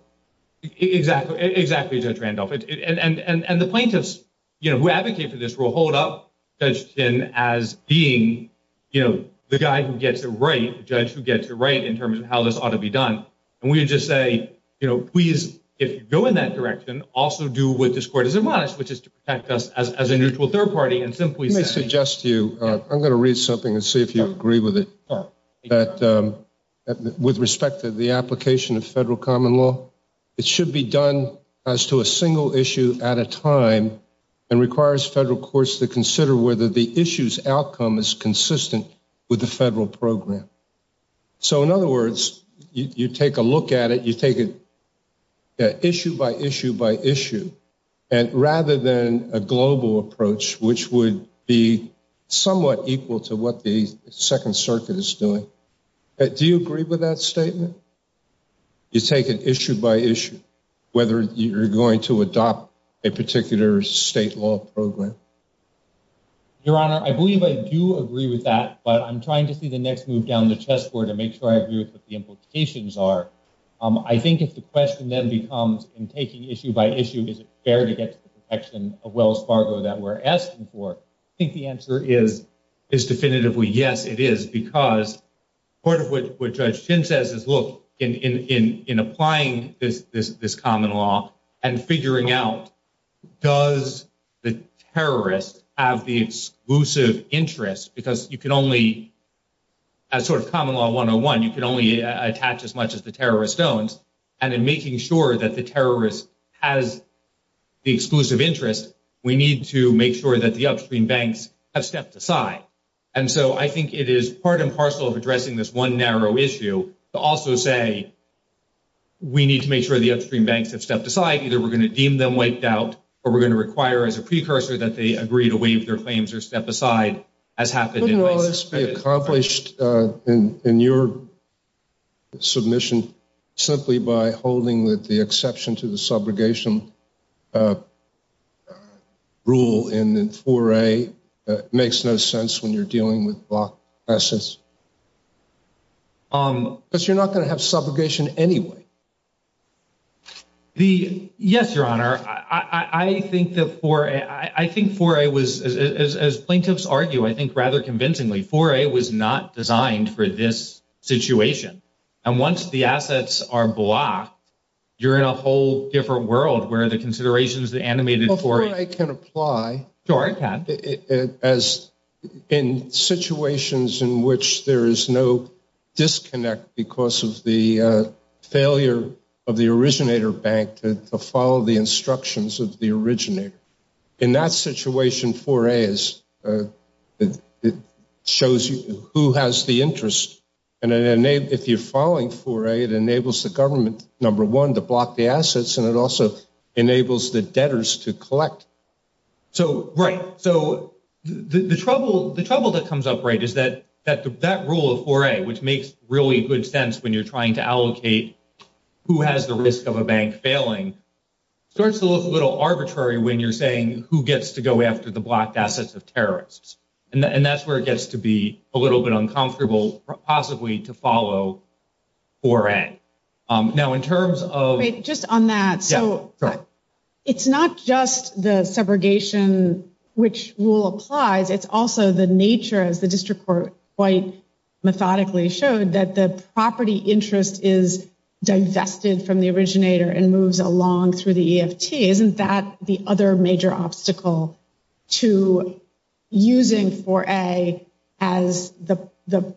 Exactly, Judge Randolph. And the plaintiffs who advocate for this rule hold up Judge Sin as being the guy who gets it right, the judge who gets it right in terms of how this ought to be done. And we would just say, you know, please, if you go in that direction, also do what this court has admonished, which is to protect us as a neutral third party and simply ‑‑ Let me suggest to you, I'm going to read something and see if you agree with it, that with respect to the application of federal common law, it should be done as to a single issue at a time and requires federal courts to consider whether the issue's outcome is consistent with the federal program. So in other words, you take a look at it, you take it issue by issue by issue, and rather than a global approach, which would be somewhat equal to what the Second Circuit is doing, do you agree with that statement? You take it issue by issue, whether you're going to adopt a particular state law program. Your Honor, I believe I do agree with that, but I'm trying to see the next move down the chess board to make sure I agree with what the implications are. I think if the question then becomes, in taking issue by issue, is it fair to get to the protection of Wells Fargo that we're asking for, I think the answer is definitively yes, it is, because part of what Judge Sin says is, look, in applying this common law and figuring out does the terrorist have the exclusive interest, because you can only, as sort of common law 101, you can only attach as much as the terrorists don't, and in making sure that the terrorist has the exclusive interest, we need to make sure that the upstream banks have stepped aside. And so I think it is part and parcel of addressing this one narrow issue to also say we need to make sure the upstream banks have stepped aside. Either we're going to deem them wiped out, or we're going to require as a precursor that they agree to waive their claims or step aside, as happened in Wells Fargo. Well, it's been accomplished in your submission simply by holding that the exception to the subrogation rule in 4A makes no sense when you're dealing with block buses. But you're not going to have subrogation anyway. Yes, Your Honor. I think that 4A was, as plaintiffs argue, I think rather conventionally, 4A was not designed for this situation. And once the assets are blocked, you're in a whole different world where the considerations of the animated 4A can apply. As in situations in which there is no disconnect because of the failure of the originator bank to follow the instructions of the originator. In that situation, 4A shows who has the interest. And if you're following 4A, it enables the government, number one, to block the assets, and it also enables the debtors to collect. Right. So the trouble that comes up, right, is that that rule of 4A, which makes really good sense when you're trying to allocate who has the risk of a bank failing, starts to look a little arbitrary when you're saying who gets to go after the blocked assets of terrorists. And that's where it gets to be a little bit uncomfortable possibly to follow 4A. Now, in terms of... Just on that, so it's not just the segregation which rule applies. It's also the nature, as the district court quite methodically showed, that the property interest is digested from the originator and moves along through the EFT. Isn't that the other major obstacle to using 4A as the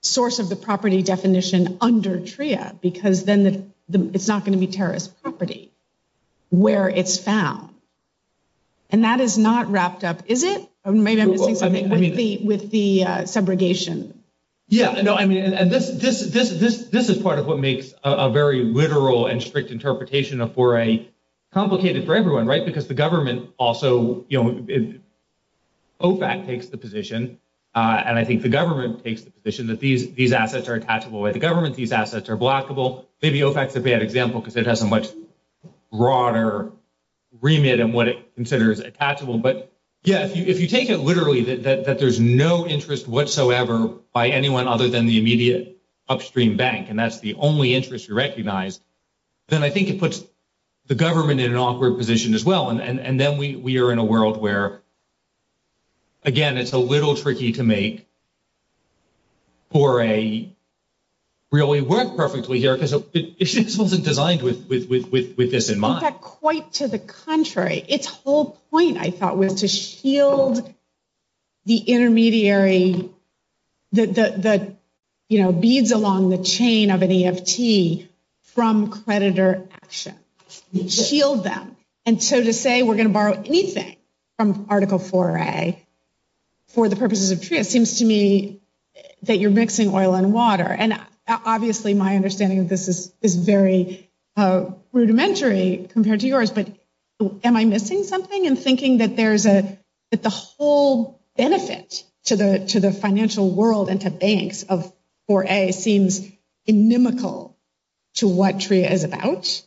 source of the property definition under TRIA? Because then it's not going to be terrorist property where it's found. And that is not wrapped up, is it? Or maybe I'm confusing something with the segregation. Yeah, no, I mean, this is part of what makes a very literal and strict interpretation of 4A complicated for everyone, right, because the government also, you know, OFAC takes the position, and I think the government takes the position, that these assets are attachable to the government, these assets are blockable. Maybe OFAC's a bad example because it has a much broader remit in what it considers attachable. But, yeah, if you take it literally that there's no interest whatsoever by anyone other than the immediate upstream bank, and that's the only interest you recognize, then I think it puts the government in an awkward position as well. And then we are in a world where, again, it's a little tricky to make 4A really work perfectly here because this wasn't designed with this in mind. It's not quite to the contrary. Its whole point, I thought, was to shield the intermediary, you know, beads along the chain of an EFT from creditor action. Shield them. And so to say we're going to borrow anything from Article 4A for the purposes of TRIA, it seems to me that you're mixing oil and water. And obviously my understanding of this is very rudimentary compared to yours, but am I missing something in thinking that there's a, that the whole benefit to the financial world and to banks of 4A seems inimical to what TRIA is about?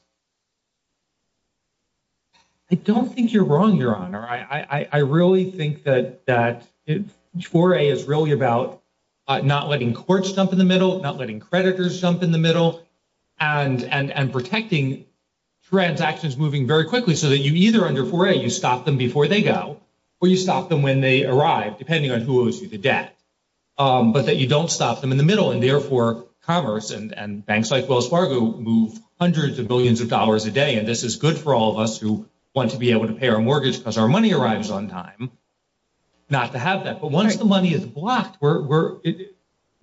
I don't think you're wrong, Your Honor. I really think that 4A is really about not letting courts jump in the middle, not letting creditors jump in the middle, and protecting transactions moving very quickly so that you either under 4A you stop them before they go or you stop them when they arrive, depending on who owes you the debt, but that you don't stop them in the middle and therefore commerce and banks like Wells Fargo move hundreds of billions of dollars a day. And this is good for all of us who want to be able to pay our mortgage because our money arrives on time, not to have that. But what if the money is blocked?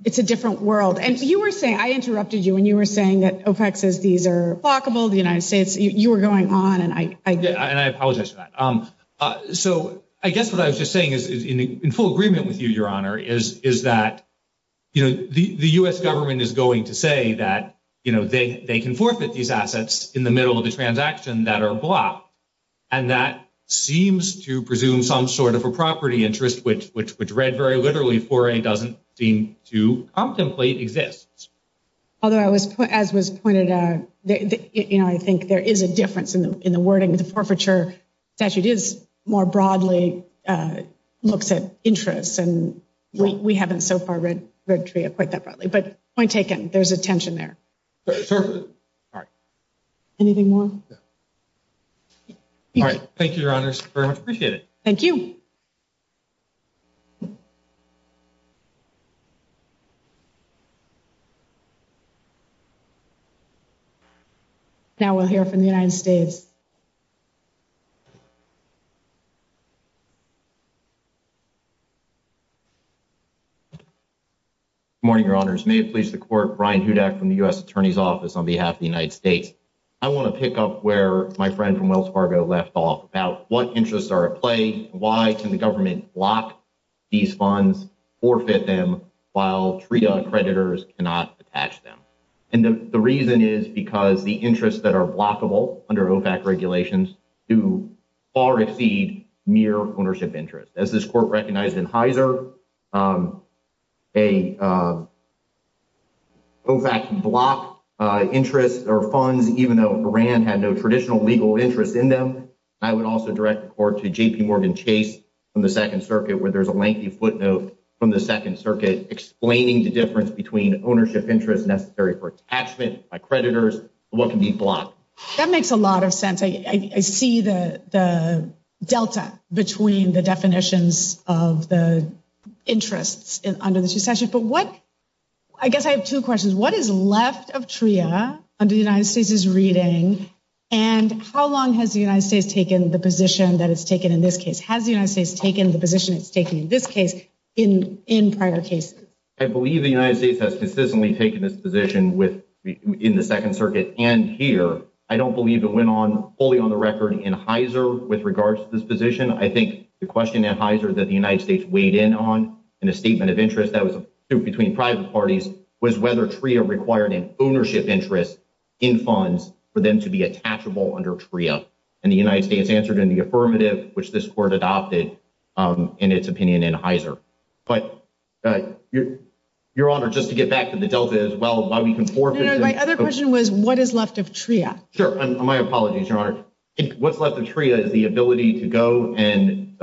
It's a different world. And you were saying, I interrupted you when you were saying that OPEX is either blockable, the United States, you were going on. And I apologize for that. So I guess what I was just saying is in full agreement with you, Your Honor, is that the U.S. government is going to say that they can forfeit these assets in the middle of a transaction that are blocked. And that seems to presume some sort of a property interest, which read very literally, 4A doesn't seem to contemplate exists. Although, as was pointed out, I think there is a difference in the wording of the forfeiture statute that is more broadly looks at interest. And we haven't so far read 3A quite that broadly. But point taken. There's a tension there. Anything more? All right. Thank you, Your Honor. I appreciate it. Thank you. Now we'll hear from the United States. Good morning, Your Honors. May it please the Court. Brian Hudak from the U.S. Attorney's Office on behalf of the United States. I want to pick up where my friend from Wells Fargo left off about what interests are at play, and why can the government block these funds, forfeit them, while 3A creditors cannot detach them. And the reason is because the interests that are blockable under OFAC regulations do far exceed mere ownership interest. As this Court recognized in Heiser, a OFAC block interest or funds, even though Iran had no traditional legal interest in them. I would also direct the Court to J.P. Morgan Chase from the Second Circuit, where there's a lengthy footnote from the Second Circuit explaining the difference between ownership interest necessary for attachment by creditors and what can be blocked. That makes a lot of sense. I see the delta between the definitions of the interests under this discussion. But what – I guess I have two questions. What is left of 3A under the United States' reading? And how long has the United States taken the position that it's taken in this case? Has the United States taken the position it's taken in this case in prior cases? I believe the United States has consistently taken this position in the Second Circuit and here. I don't believe it went on fully on the record in Heiser with regards to this position. I think the question at Heiser that the United States weighed in on in a statement of interest that was put between private parties was whether 3A required an ownership interest in funds for them to be attachable under 3A. And the United States answered in the affirmative, which this Court adopted in its opinion in Heiser. But, Your Honor, just to get back to the delta as well, while we can – My other question was what is left of 3A? Sure. My apologies, Your Honor. What's left of 3A is the ability to go and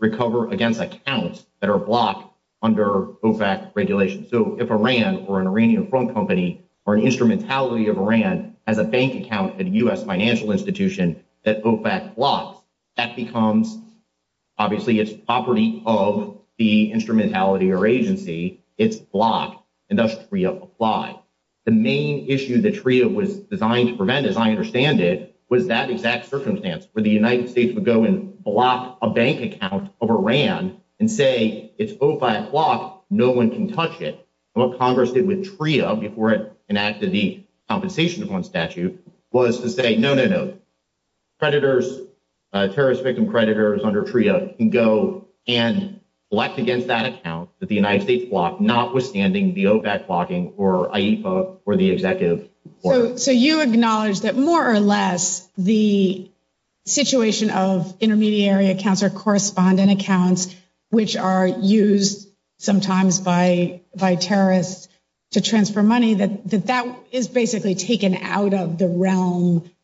recover against accounts that are blocked under OFAC regulations. So if a RAND or an Iranian phone company or an instrumentality of a RAND has a bank account at a U.S. financial institution that OFAC blocks, that becomes – obviously, it's property of the instrumentality or agency. It's blocked, and that's 3A applied. The main issue that 3A was designed to prevent, as I understand it, was that exact circumstance where the United States would go and block a bank account of a RAND and say it's OFAC-blocked, no one can touch it. What Congress did with TRIO before it enacted the Compensation Fund statute was to say, no, no, no, terrorist victim creditors under TRIO can go and elect against that account that the United States blocked, notwithstanding the OFAC blocking or IEFA or the executive order. So you acknowledge that more or less the situation of intermediary accounts or correspondent accounts which are used sometimes by terrorists to transfer money, that that is basically taken out of the realm –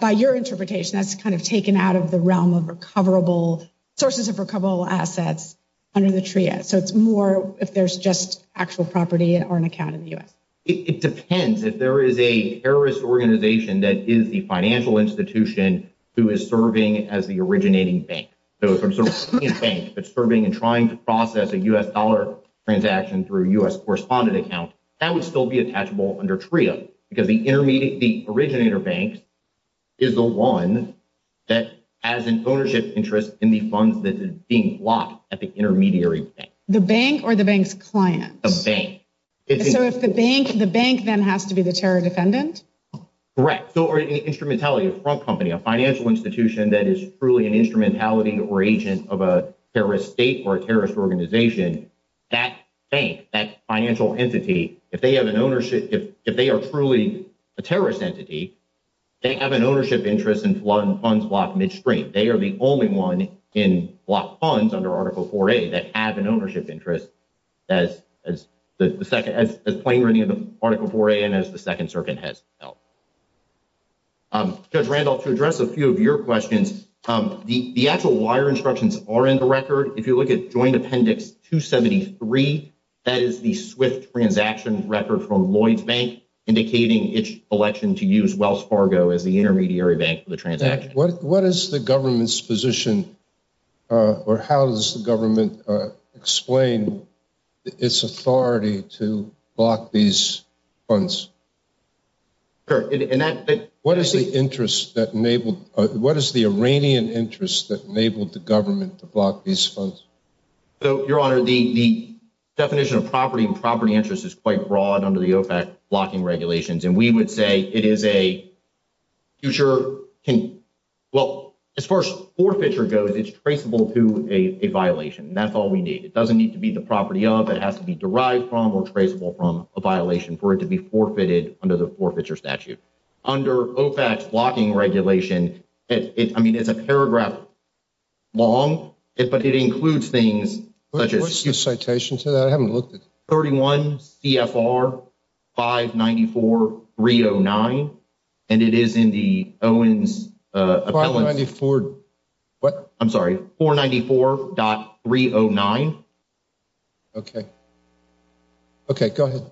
by your interpretation, that's kind of taken out of the realm of recoverable – sources of recoverable assets under the TRIO. So it's more if there's just actual property or an account in the U.S. It depends. If there is a terrorist organization that is the financial institution who is serving as the originating bank. So if it's a banking bank that's serving and trying to process a U.S. dollar transaction through a U.S. correspondent account, that would still be attachable under TRIO because the originator bank is the one that has an ownership interest in the funds that is being blocked at the intermediary bank. The bank or the bank's client? The bank. So if the bank, the bank then has to be the terror defendant? Correct. So an instrumentality, a front company, a financial institution that is truly an instrumentality or agent of a terrorist state or a terrorist organization, that bank, that financial entity, if they have an ownership – if they are truly a terrorist entity, they have an ownership interest in blocking funds blocked midstream. They are the only one in blocked funds under Article 4A that have an ownership interest as plain or any of them, Article 4A and as the Second Circuit has held. Judge Randolph, to address a few of your questions, the actual wire instructions are in the record. If you look at Joint Appendix 273, that is the swift transaction record from Lloyds Bank indicating its election to use Wells Fargo as the intermediary bank for the transaction. What is the government's position or how does the government explain its authority to block these funds? What is the interest that enabled – what is the Iranian interest that enabled the government to block these funds? So, Your Honor, the definition of property and property interest is quite broad under the OFAC blocking regulations, and we would say it is a future – well, as far as forfeiture goes, it's traceable to a violation. That's all we need. It doesn't need to be the property of. It has to be derived from or traceable from a violation for it to be forfeited under the forfeiture statute. Under OFAC blocking regulations, I mean, it's a paragraph long, but it includes things such as – What's your citation? I haven't looked at it. 31 CFR 594.309, and it is in the Owens – 494 – what? I'm sorry, 494.309. Okay. Okay, go ahead.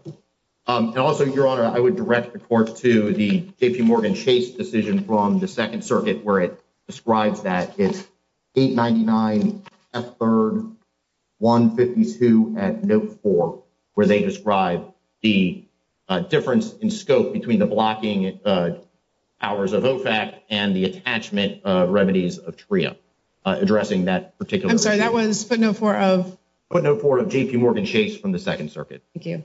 And also, Your Honor, I would direct the court to the JPMorgan Chase decision from the Second Circuit where it describes that. It's 899 F-3rd 152 at note 4, where they describe the difference in scope between the blocking powers of OFAC and the attachment remedies of TREA, addressing that particular – I'm sorry, that was footnote 4 of – Footnote 4 of JPMorgan Chase from the Second Circuit. Thank you.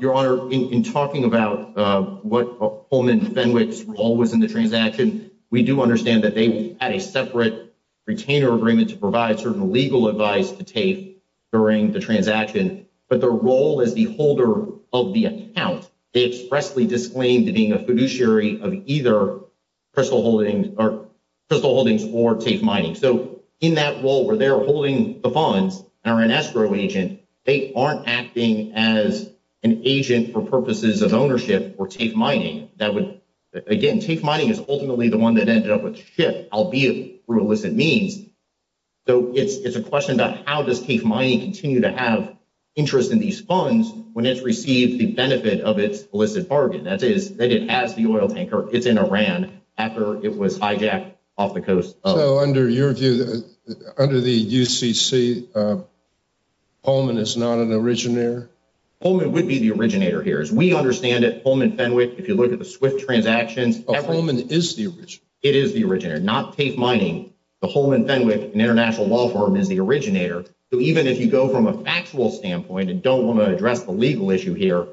Your Honor, in talking about what Coleman Fenwick's role was in the transaction, we do understand that they had a separate retainer agreement to provide certain legal advice to TAKE during the transaction, but their role as the holder of the account, they expressly disclaimed being a fiduciary of either Crystal Holdings or TAKE Mining. So in that role where they're holding the bonds and are an escrow agent, they aren't acting as an agent for purposes of ownership for TAKE Mining. Again, TAKE Mining is ultimately the one that ended up with SHIP, albeit through illicit means. So it's a question about how does TAKE Mining continue to have interest in these funds when it's received the benefit of its illicit bargain, that is, that it has the oil tanker within Iran after it was hijacked off the coast. So under your view, under the UCC, Coleman is not an originator? Coleman would be the originator here. As we understand it, Coleman Fenwick, if you look at the swift transactions, Coleman is the originator. It is the originator, not TAKE Mining. The Coleman Fenwick International Law Firm is the originator. So even if you go from a factual standpoint and don't want to address the legal issue here,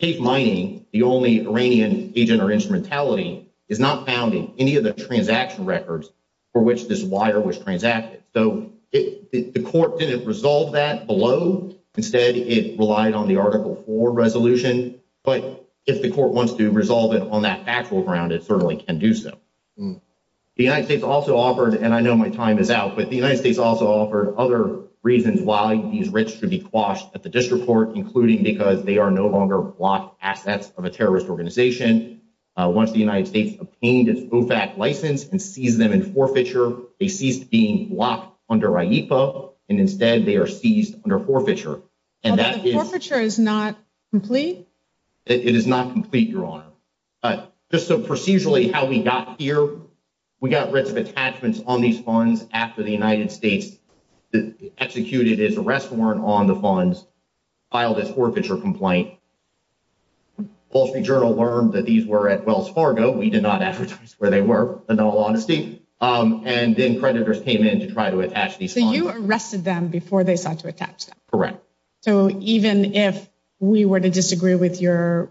TAKE Mining, the only Iranian agent or instrumentality, is not found in any of the transaction records for which this wire was transacted. So the court didn't resolve that below. Instead, it relied on the Article 4 resolution. But if the court wants to resolve it on that factual ground, it certainly can do so. The United States also offered, and I know my time is out, but the United States also offered other reasons why these risks should be quashed at the district court, including because they are no longer blocked assets of a terrorist organization. Once the United States obtained its OFAC license and seized them in forfeiture, they ceased being blocked under IEPA, and instead they are seized under forfeiture. But the forfeiture is not complete? It is not complete, Your Honor. But just procedurally how we got here, we got a list of attachments on these funds after the United States executed its arrest warrant on the funds, filed its forfeiture complaint. Policy Journal learned that these were at Wells Fargo. We did not ask where they were, in all honesty. And then creditors came in to try to attach these funds. So you arrested them before they sought to attach them? Correct. So even if we were to disagree with your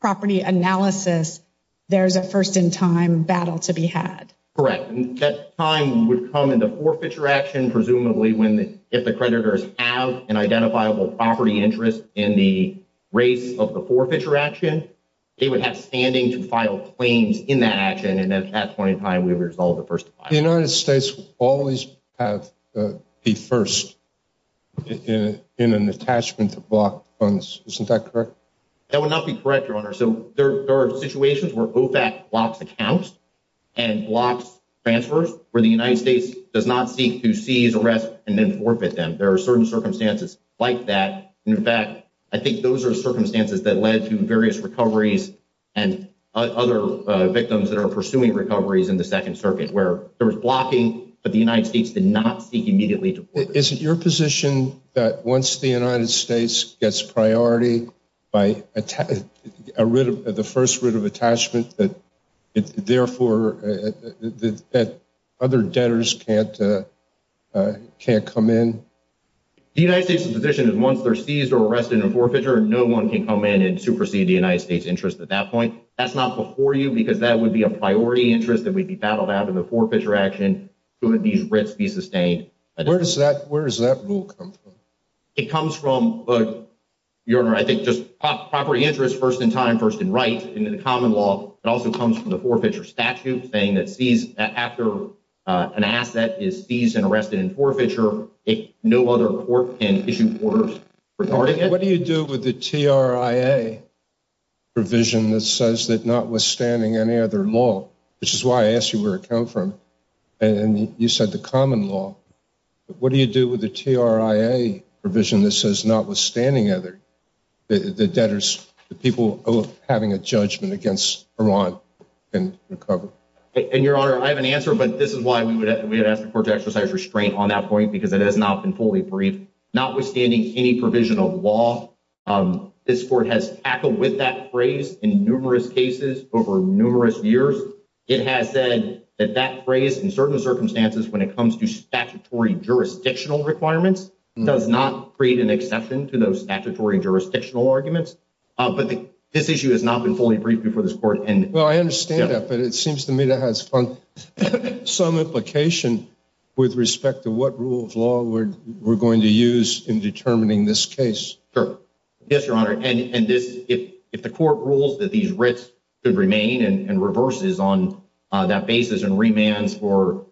property analysis, there's a first-in-time battle to be had? Correct. And that time would come in the forfeiture action, presumably, when if the creditors have an identifiable property interest in the rates of the forfeiture action, they would have standing to file claims in that action, and then at that point in time we would resolve the first-in-time. The United States would always have the first in an attachment to block funds. Isn't that correct? That would not be correct, Your Honor. So there are situations where OFAC blocks accounts and blocks transfers, where the United States does not seek to seize arrests and then forfeit them. There are certain circumstances like that. In fact, I think those are circumstances that led to various recoveries and other victims that are pursuing recoveries in the Second Circuit, where there was blocking, but the United States did not seek immediately to forfeit. Is it your position that once the United States gets priority by the first writ of attachment, that therefore other debtors can't come in? The United States' position is once they're seized or arrested in forfeiture, no one can come in and supersede the United States' interest at that point. That's not before you because that would be a priority interest that would be battled out in the forfeiture action who would need risk to be sustained. Where does that rule come from? It comes from, Your Honor, I think just property interest first-in-time, first-in-right. In the common law, it also comes from the forfeiture statute, saying that after an asset is seized and arrested in forfeiture, no other court can issue orders regarding it. What do you do with the TRIA provision that says that notwithstanding any other law, which is why I asked you where it comes from, and you said the common law. What do you do with the TRIA provision that says notwithstanding other debtors, the people having a judgment against Vermont can recover? And, Your Honor, I have an answer, but this is why we would ask the court to exercise restraint on that point because it has not been fully briefed. Notwithstanding any provision of law, this court has tackled with that phrase in numerous cases over numerous years. It has said that that phrase, in certain circumstances, when it comes to statutory jurisdictional requirements, does not create an accession to those statutory jurisdictional arguments. But this issue has not been fully briefed before this court. Well, I understand that, but it seems to me that has some implication with respect to what rule of law we're going to use in determining this case. Yes, Your Honor, and if the court rules that these risks should remain and reverses on that basis and remands for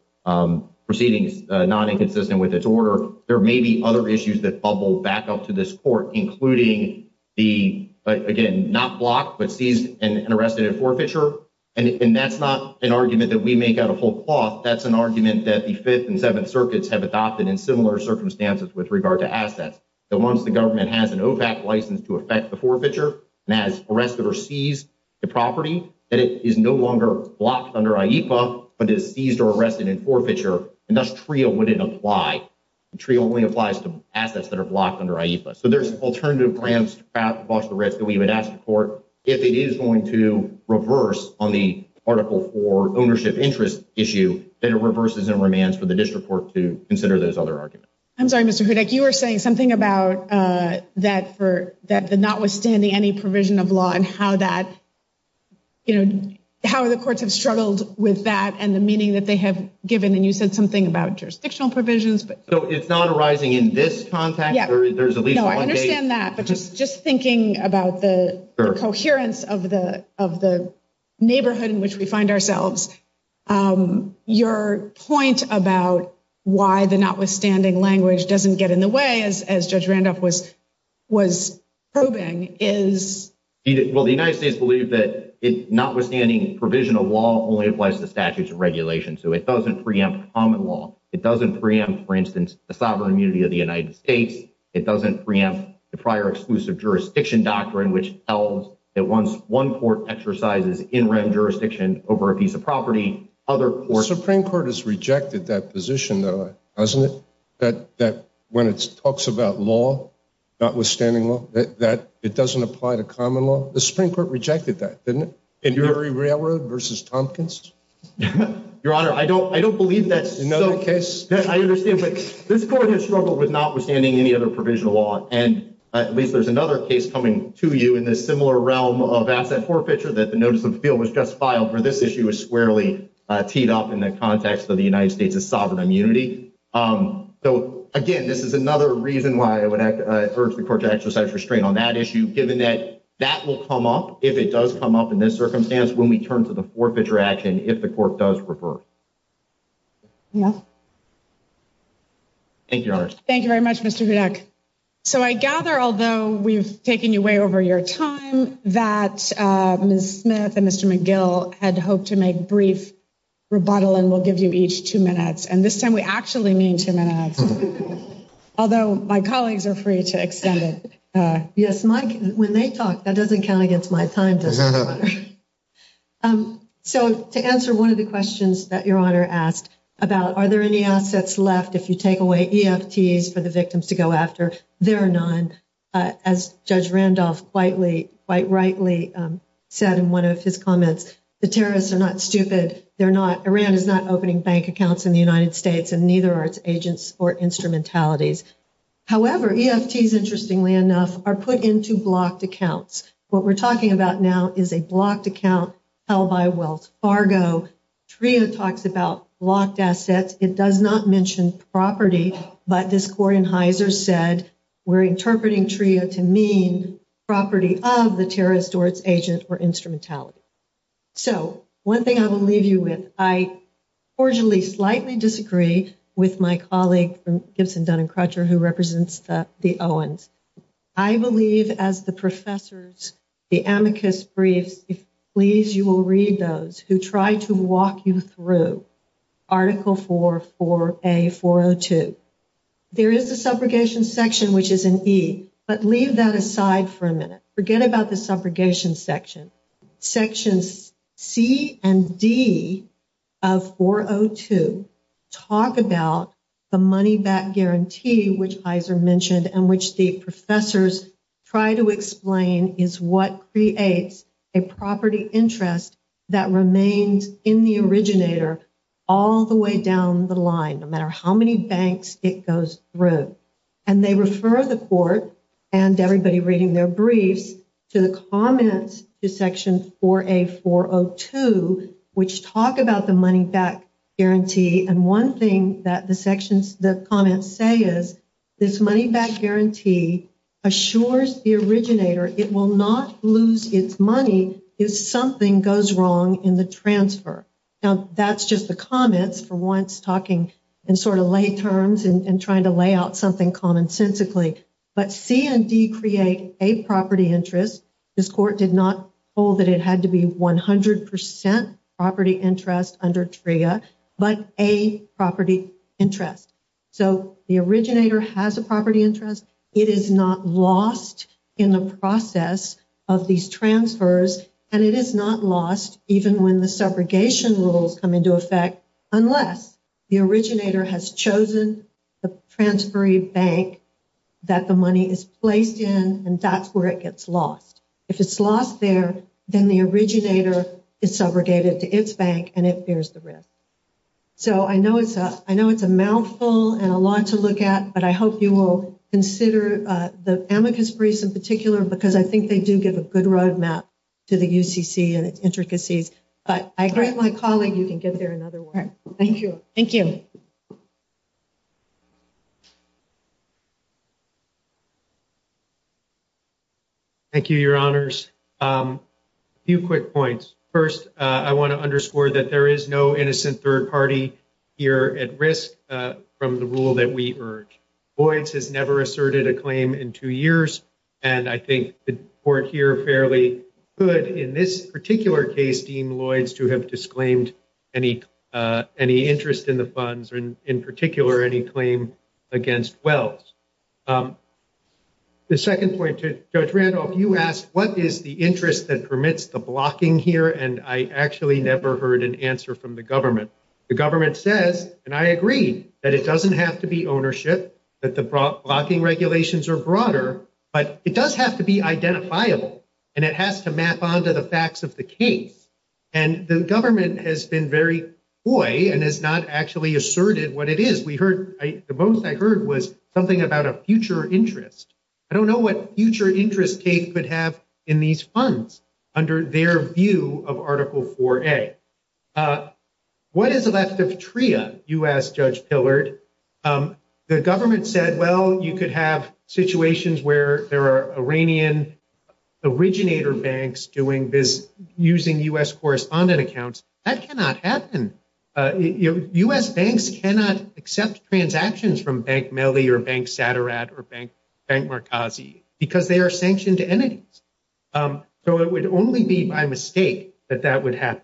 proceedings not inconsistent with its order, there may be other issues that bubble back up to this court, including the, again, not blocked, but seized and arrested in forfeiture. And that's not an argument that we make out of whole cloth. That's an argument that the Fifth and Seventh Circuits have adopted in similar circumstances with regard to assets. So once the government has an OVAC license to affect the forfeiture and has arrested or seized the property, and it is no longer blocked under IEFA, but is seized or arrested in forfeiture, and thus TRIO wouldn't apply. TRIO only applies to assets that are blocked under IEFA. So there's alternative ramps across the risk that we would ask the court if it is going to reverse on the Article IV ownership interest issue that it reverses and remands for the district court to consider those other arguments. I'm sorry, Mr. Hudek. You were saying something about that the notwithstanding any provision of law and how the courts have struggled with that and the meaning that they have given. And you said something about jurisdictional provisions. So if not arising in this context, there is at least one case. I understand that, but just thinking about the coherence of the neighborhood in which we find ourselves, your point about why the notwithstanding language doesn't get in the way, as Judge Randolph was probing, is… Well, the United States believes that it's notwithstanding provision of law, only it applies to statutes and regulations. So it doesn't preempt common law. It doesn't preempt, for instance, the sovereign immunity of the United States. It doesn't preempt the prior exclusive jurisdiction doctrine, which tells that once one court exercises in-ramp jurisdiction over a piece of property, other courts… The Supreme Court has rejected that position, though, hasn't it? That when it talks about law, notwithstanding law, that it doesn't apply to common law. The Supreme Court rejected that, didn't it? Embury Railroad v. Tompkins? Your Honor, I don't believe that's another case. I understand, but this court has struggled with notwithstanding any other provision of law, and at least there's another case coming to you in the similar realm of asset forfeiture that the notice of appeal was just filed, where this issue was squarely teed up in the context of the United States' sovereign immunity. So, again, this is another reason why I would urge the court to exercise restraint on that issue, given that that will come up, if it does come up in this circumstance, when we turn to the forfeiture action, if the court does revert. Thank you, Your Honor. Thank you very much, Mr. Bidak. So I gather, although we've taken you way over your time, that Ms. Smith and Mr. McGill had hoped to make brief rebuttal, and we'll give you each two minutes. And this time we actually mean two minutes, although my colleagues are free to extend it. Yes, Mike, when they talk, that doesn't count against my time, does it, Your Honor? So to answer one of the questions that Your Honor asked about are there any assets left if you take away EFTs for the victims to go after, there are none. As Judge Randolph quite rightly said in one of his comments, the terrorists are not stupid. Iran is not opening bank accounts in the United States, and neither are its agents or instrumentalities. However, EFTs, interestingly enough, are put into blocked accounts. What we're talking about now is a blocked account held by Wells Fargo. TRIO talks about blocked assets. It does not mention property, but this court in Heiser said we're interpreting TRIO to mean property of the terrorist or its agent or instrumentality. So one thing I will leave you with. I fortunately slightly disagree with my colleague from Gibson, Dunn & Crutcher, who represents the Owens. I believe, as the professors, the amicus brief, please, you will read those who try to walk you through Article 4, 4A, 402. There is the subrogation section, which is in E, but leave that aside for a minute. Forget about the subrogation section. Sections C and D of 402 talk about the money-back guarantee, which Heiser mentioned, and which the professors try to explain is what creates a property interest that remains in the originator all the way down the line, no matter how many banks it goes through. And they refer the court, and everybody reading their brief, to the comments to Section 4A, 402, which talk about the money-back guarantee. And one thing that the comments say is this money-back guarantee assures the originator it will not lose its money if something goes wrong in the transfer. Now, that's just the comments for once, talking in sort of lay terms and trying to lay out something commonsensically. But C and D create a property interest. This court did not hold that it had to be 100% property interest under TRIA, but a property interest. So the originator has a property interest. It is not lost in the process of these transfers, and it is not lost even when the subrogation rules come into effect, unless the originator has chosen the transferring bank that the money is placed in, and that's where it gets lost. If it's lost there, then the originator is subrogated to its bank, and it bears the risk. So I know it's a mouthful and a lot to look at, but I hope you will consider the Amicus briefs in particular, because I think they do give a good roadmap to the UCC and intricacies. But I grant my colleague you can get there in other words. Thank you. Thank you. Thank you, Your Honors. A few quick points. First, I want to underscore that there is no innocent third party here at risk from the rule that we urge. Lloyds has never asserted a claim in two years, and I think the court here fairly could, in this particular case, deem Lloyds to have disclaimed any interest in the funds, and in particular, any claim against Wells. The second point, Judge Randolph, you asked what is the interest that permits the blocking here, and I actually never heard an answer from the government. The government says, and I agree, that it doesn't have to be ownership, that the blocking regulations are broader, but it does have to be identifiable, and it has to map onto the facts of the case. And the government has been very coy and has not actually asserted what it is. The most I heard was something about a future interest. I don't know what future interest Kate could have in these funds under their view of Article 4A. What is the left of TRIA, you asked Judge Pillard. The government said, well, you could have situations where there are Iranian originator banks using U.S. correspondent accounts. That cannot happen. U.S. banks cannot accept transactions from Bank Melli or Bank Satarat or Bank Markazi because they are sanctioned entities. So it would only be by mistake that that would happen.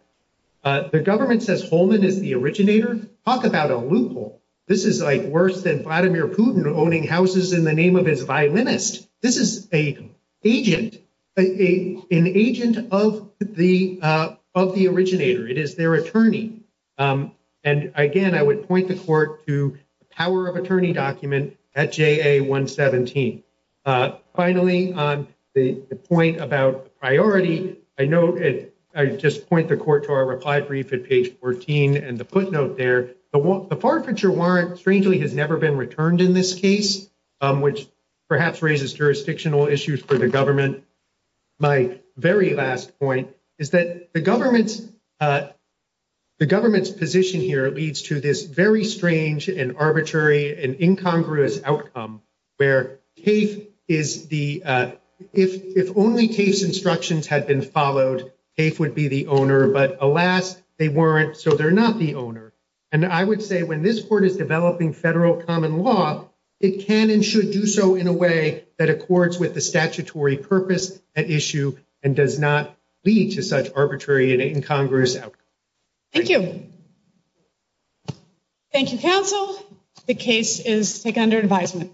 The government says Holman is the originator. Talk about a loophole. This is like worse than Vladimir Putin owning houses in the name of his violinist. This is an agent of the originator. It is their attorney. And, again, I would point the court to the power of attorney document at JA 117. Finally, the point about priority, I know I just point the court to our reply brief at page 14 and the footnote there. But the forfeiture warrant strangely has never been returned in this case, which perhaps raises jurisdictional issues for the government. My very last point is that the government's position here leads to this very strange and arbitrary and incongruous outcome where if only case instructions had been followed, CAFE would be the owner. But, alas, they weren't, so they're not the owner. And I would say when this court is developing federal common law, it can and should do so in a way that accords with the statutory purpose at issue and does not lead to such arbitrary and incongruous outcome. Thank you. Thank you, counsel. The case is taken under advisement.